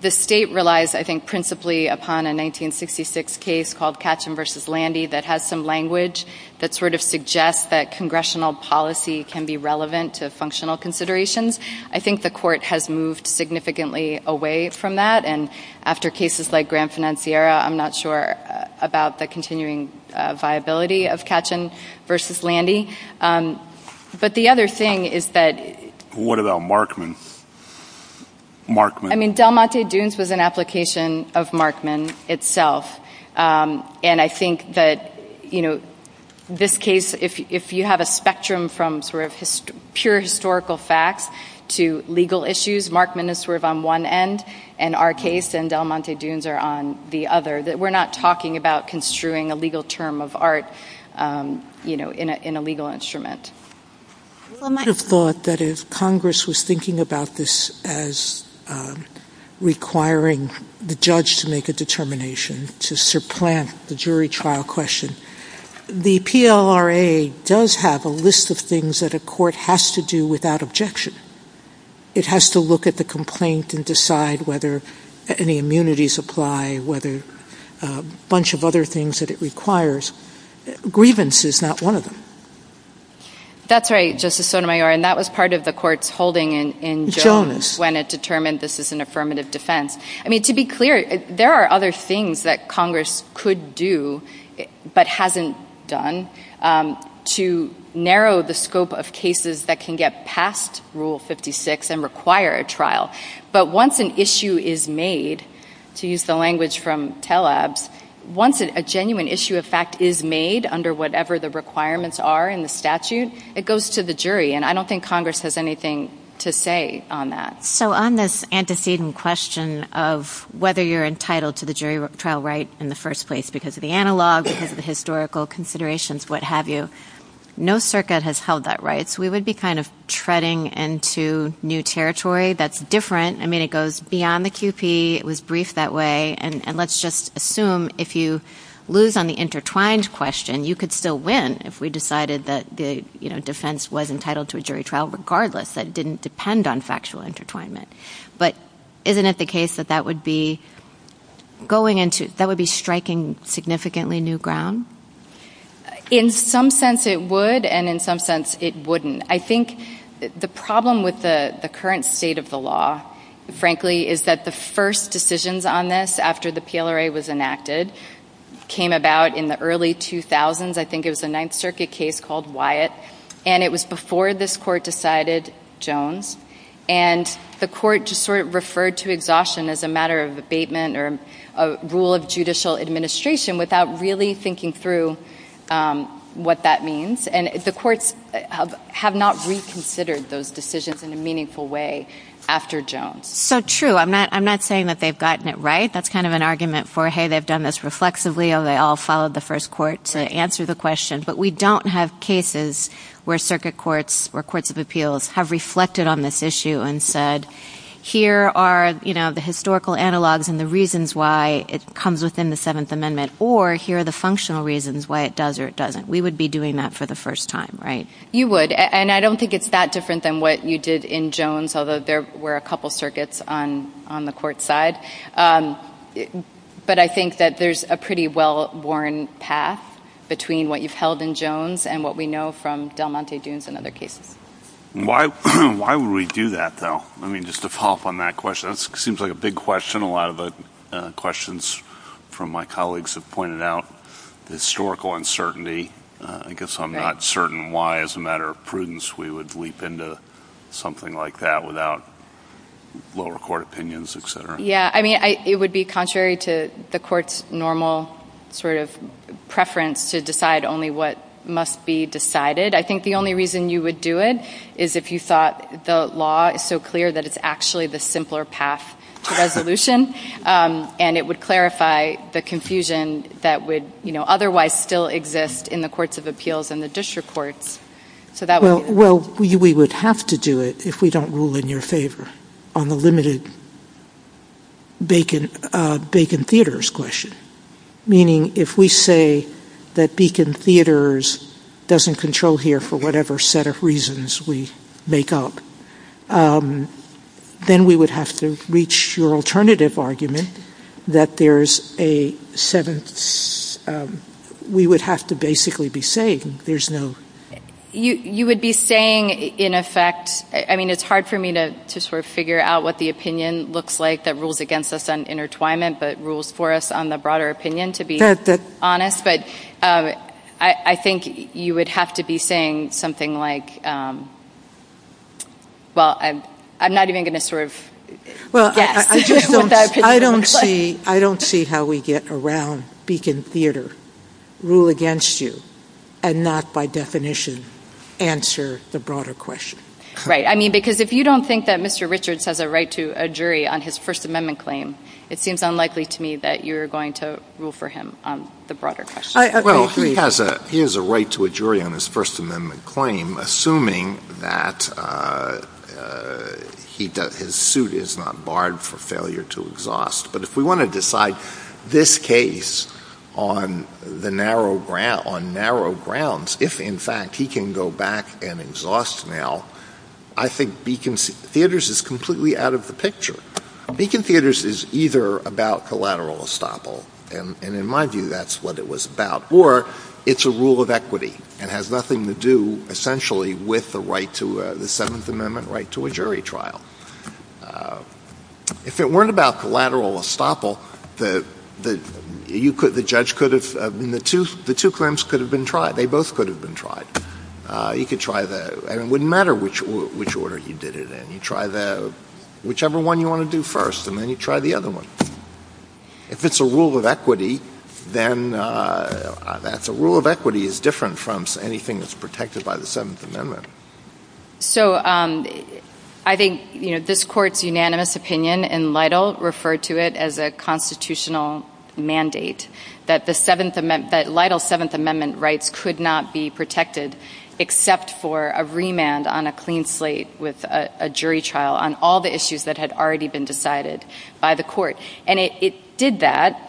the state relies, I think, principally upon a 1966 case called Katchen v. Landy that has some language that sort of suggests that congressional policy can be relevant to functional considerations. I think the Court has moved significantly away from that, and after cases like Granfinanciera, I'm not sure about the continuing viability of Katchen v. Landy. But the other thing is that— What about Markman? I mean, Del Monte Dunes was an application of Markman itself, and I think that this case, if you have a spectrum from sort of pure historical facts to legal issues, Markman is sort of on one end, and our case and Del Monte Dunes are on the other, that we're not talking about construing a legal term of art in a legal instrument. I would have thought that if Congress was thinking about this as requiring the judge to make a determination to supplant the jury trial question, the PLRA does have a list of things that a court has to do without objection. It has to look at the complaint and decide whether any immunities apply, whether a bunch of other things that it requires. Grievance is not one of them. That's right, Justice Sotomayor, and that was part of the Court's holding in Jones when it determined this is an affirmative defense. I mean, to be clear, there are other things that Congress could do but hasn't done to narrow the scope of cases that can get past Rule 56 and require a trial. But once an issue is made, to use the language from Telabs, once a genuine issue of fact is made under whatever the requirements are in the statute, it goes to the jury, and I don't think Congress has anything to say on that. So on this antecedent question of whether you're entitled to the jury trial right in the first place because of the analog, because of the historical considerations, what have you, no circuit has held that right. We would be kind of treading into new territory that's different. I mean, it goes beyond the QP. It was briefed that way, and let's just assume if you lose on the intertwined question, you could still win if we decided that the defense was entitled to a jury trial regardless. That didn't depend on factual intertwinement. But isn't it the case that that would be striking significantly new ground? In some sense it would, and in some sense it wouldn't. I think the problem with the current state of the law, frankly, is that the first decisions on this after the PLRA was enacted came about in the early 2000s. I think it was a Ninth Circuit case called Wyatt, and it was before this court decided Jones. And the court just sort of referred to exhaustion as a matter of abatement or a rule of judicial administration without really thinking through what that means. And the courts have not reconsidered those decisions in a meaningful way after Jones. So true. I'm not saying that they've gotten it right. That's kind of an argument for, hey, they've done this reflexively, or they all followed the first court to answer the question. But we don't have cases where circuit courts or courts of appeals have reflected on this issue and said, here are the historical analogs and the reasons why it comes within the Seventh Amendment, or here are the functional reasons why it does or it doesn't. We would be doing that for the first time, right? You would, and I don't think it's that different than what you did in Jones, although there were a couple circuits on the court side. But I think that there's a pretty well-worn path between what you've held in Jones and what we know from Del Monte Dunes and other cases. Why would we do that, though? I mean, just to follow up on that question, that seems like a big question. A lot of questions from my colleagues have pointed out the historical uncertainty. I guess I'm not certain why, as a matter of prudence, we would leap into something like that without lower court opinions, et cetera. Yeah, I mean, it would be contrary to the court's normal sort of preference to decide only what must be decided. I think the only reason you would do it is if you thought the law is so clear that it's actually the simpler path to resolution, and it would clarify the confusion that would otherwise still exist in the courts of appeals and the district courts. Well, we would have to do it if we don't rule in your favor on the limited Bacon Theaters question, meaning if we say that Bacon Theaters doesn't control here for whatever set of reasons we make up, then we would have to reach your alternative argument that there's a set of... we would have to basically be saying there's no... You would be saying, in effect... I mean, it's hard for me to sort of figure out what the opinion looks like that rules against us on intertwinement but rules for us on the broader opinion, to be honest, but I think you would have to be saying something like, well, I'm not even going to sort of guess. I don't see how we get around Bacon Theater, rule against you, and not, by definition, answer the broader question. Right. I mean, because if you don't think that Mr. Richards has a right to a jury on his First Amendment claim, it seems unlikely to me that you're going to rule for him on the broader question. Well, he has a right to a jury on his First Amendment claim, assuming that his suit is not barred for failure to exhaust. But if we want to decide this case on narrow grounds, if, in fact, he can go back and exhaust now, I think Bacon Theater is completely out of the picture. Bacon Theater is either about collateral estoppel, and in my view, that's what it was about, or it's a rule of equity and has nothing to do, essentially, with the right to the Seventh Amendment, right to a jury trial. If it weren't about collateral estoppel, the judge could have... The two claims could have been tried. They both could have been tried. It wouldn't matter which order you did it in. You try whichever one you want to do first, and then you try the other one. If it's a rule of equity, then a rule of equity is different from anything that's protected by the Seventh Amendment. So I think this court's unanimous opinion, and Lytle referred to it as a constitutional mandate, that Lytle's Seventh Amendment rights could not be protected except for a remand on a clean slate with a jury trial on all the issues that had already been decided by the court. And it did that.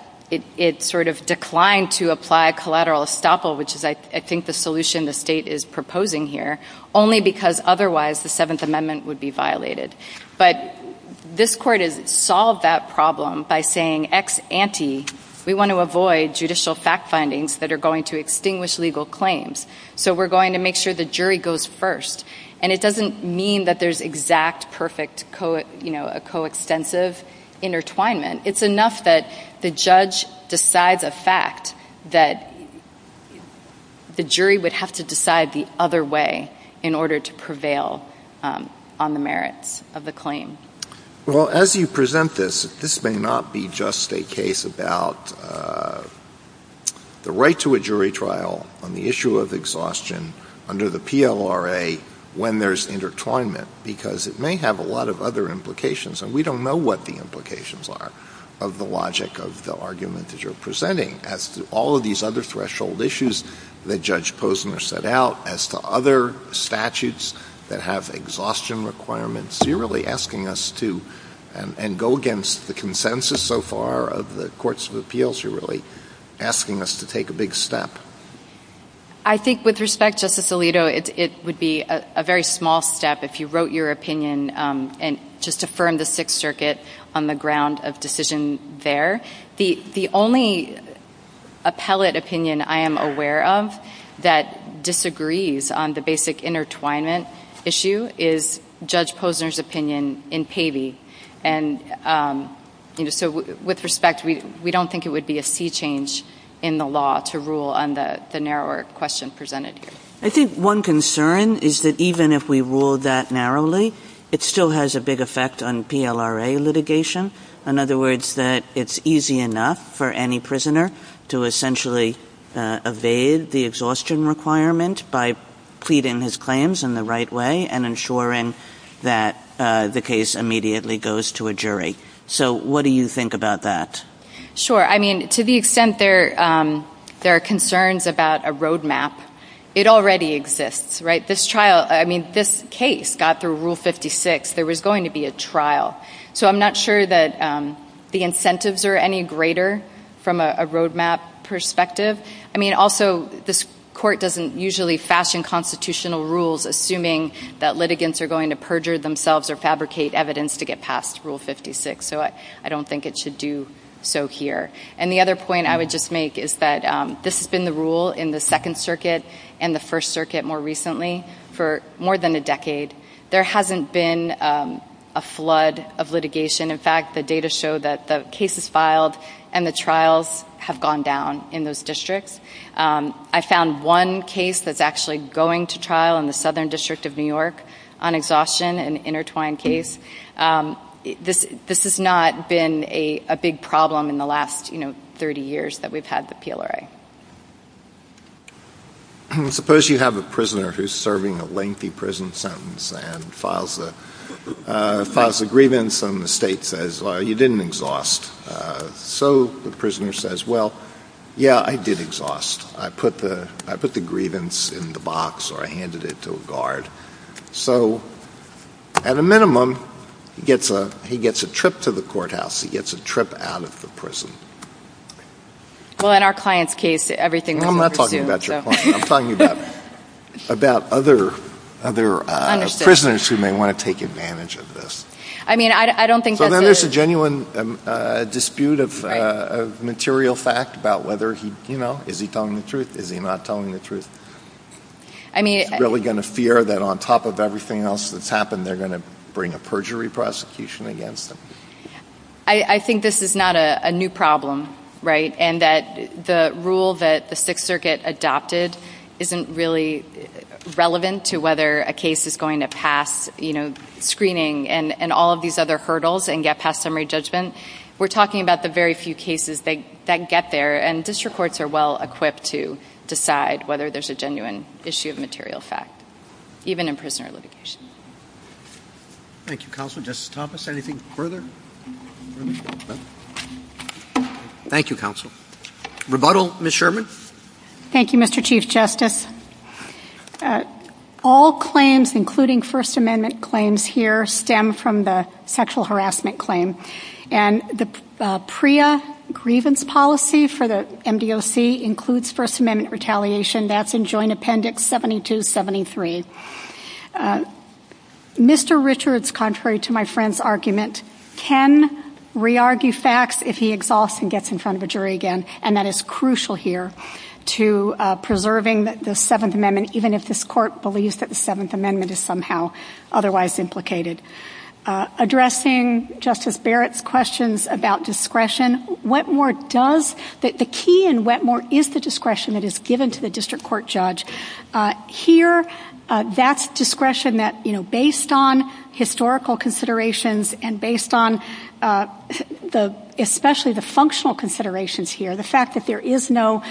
It sort of declined to apply collateral estoppel, which is, I think, the solution the state is proposing here, only because otherwise the Seventh Amendment would be violated. But this court has solved that problem by saying, ex ante, we want to avoid judicial fact findings that are going to extinguish legal claims. So we're going to make sure the jury goes first. And it doesn't mean that there's exact, perfect, coextensive intertwinement. It's enough that the judge decides a fact that the jury would have to decide the other way in order to prevail on the merits of the claim. Well, as you present this, this may not be just a case about the right to a jury trial on the issue of exhaustion under the PLRA when there's intertwinement, because it may have a lot of other implications. And we don't know what the implications are of the logic of the argument that you're presenting as to all of these other threshold issues that Judge Posner set out, as to other statutes that have exhaustion requirements. You're really asking us to, and go against the consensus so far of the courts of appeals, you're really asking us to take a big step. I think with respect, Justice Alito, it would be a very small step if you wrote your opinion and just affirmed the Sixth Circuit on the ground of decision there. But the only appellate opinion I am aware of that disagrees on the basic intertwinement issue is Judge Posner's opinion in Pavey. And so with respect, we don't think it would be a sea change in the law to rule on the narrower question presented here. I think one concern is that even if we ruled that narrowly, it still has a big effect on PLRA litigation. In other words, that it's easy enough for any prisoner to essentially evade the exhaustion requirement by pleading his claims in the right way and ensuring that the case immediately goes to a jury. So what do you think about that? Sure. I mean, to the extent there are concerns about a roadmap, it already exists, right? This trial, I mean, this case got through Rule 56. There was going to be a trial. So I'm not sure that the incentives are any greater from a roadmap perspective. I mean, also, this court doesn't usually fashion constitutional rules assuming that litigants are going to perjure themselves or fabricate evidence to get past Rule 56. So I don't think it should do so here. And the other point I would just make is that this has been the rule in the Second Circuit and the First Circuit more recently for more than a decade. There hasn't been a flood of litigation. In fact, the data show that the cases filed and the trials have gone down in those districts. I found one case that's actually going to trial in the Southern District of New York on exhaustion, an intertwined case. This has not been a big problem in the last, you know, 30 years that we've had the PLRA. Well, suppose you have a prisoner who's serving a lengthy prison sentence and files a grievance and the state says, well, you didn't exhaust. So the prisoner says, well, yeah, I did exhaust. I put the grievance in the box or I handed it to a guard. So at a minimum, he gets a trip to the courthouse. He gets a trip out of the prison. Well, in our client's case, everything was pursued. I'm not talking about your client. I'm talking about other prisoners who may want to take advantage of this. I mean, I don't think that's a... So that is a genuine dispute of material fact about whether, you know, is he telling the truth? Is he not telling the truth? I mean... Is he really going to fear that on top of everything else that's happened, they're going to bring a perjury prosecution against him? I think this is not a new problem, right, and that the rule that the Sixth Circuit adopted isn't really relevant to whether a case is going to pass, you know, screening and all of these other hurdles and get past summary judgment. We're talking about the very few cases that get there, and district courts are well-equipped to decide whether there's a genuine issue of material fact, even in prisoner litigation. Thank you, Counselor. Justice Thomas, anything further? Thank you, Counselor. Rebuttal, Ms. Sherman. Thank you, Mr. Chief Justice. All claims, including First Amendment claims here, stem from the sexual harassment claim, and the PREA grievance policy for the MDOC includes First Amendment retaliation. That's in Joint Appendix 7273. Mr. Richards, contrary to my friend's argument, can re-argue facts if he exhausts and gets in front of a jury again, and that is crucial here to preserving the Seventh Amendment, even if this Court believes that the Seventh Amendment is somehow otherwise implicated. Addressing Justice Barrett's questions about discretion, what more does the key and what more is the discretion that is given to the district court judge? Here, that discretion that, you know, based on historical considerations and based on especially the functional considerations here, the fact that there is no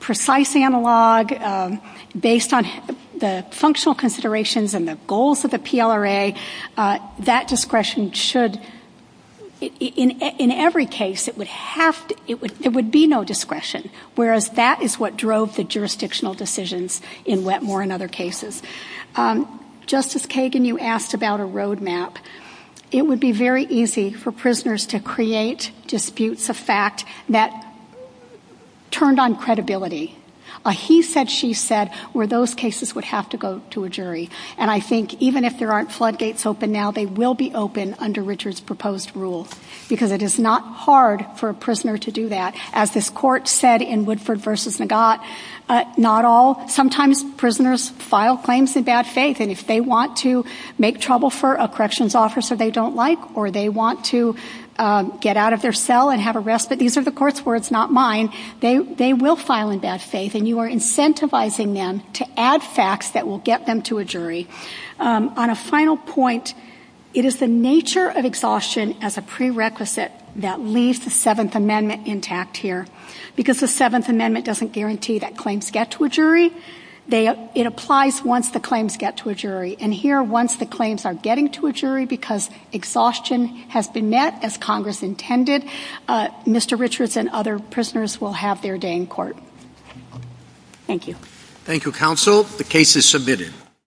precise analog based on the functional considerations and the goals of the PLRA, that discretion should, in every case, it would be no discretion, whereas that is what drove the jurisdictional decisions in Wetmore and other cases. Justice Kagan, you asked about a roadmap. It would be very easy for prisoners to create disputes of fact that turned on credibility. A he said, she said, where those cases would have to go to a jury, and I think even if there aren't floodgates open now, they will be open under Richards' proposed rule, because it is not hard for a prisoner to do that. As this court said in Woodford v. Nagat, not all, sometimes prisoners file claims in bad faith, and if they want to make trouble for a corrections officer they don't like, or they want to get out of their cell and have arrest, but these are the court's words, not mine, they will file in bad faith, and you are incentivizing them to add facts that will get them to a jury. On a final point, it is the nature of exhaustion as a prerequisite that leaves the Seventh Amendment intact here. Because the Seventh Amendment doesn't guarantee that claims get to a jury, it applies once the claims get to a jury. And here, once the claims are getting to a jury, because exhaustion has been met as Congress intended, Mr. Richards and other prisoners will have their day in court. Thank you. Thank you, Counsel. The case is submitted.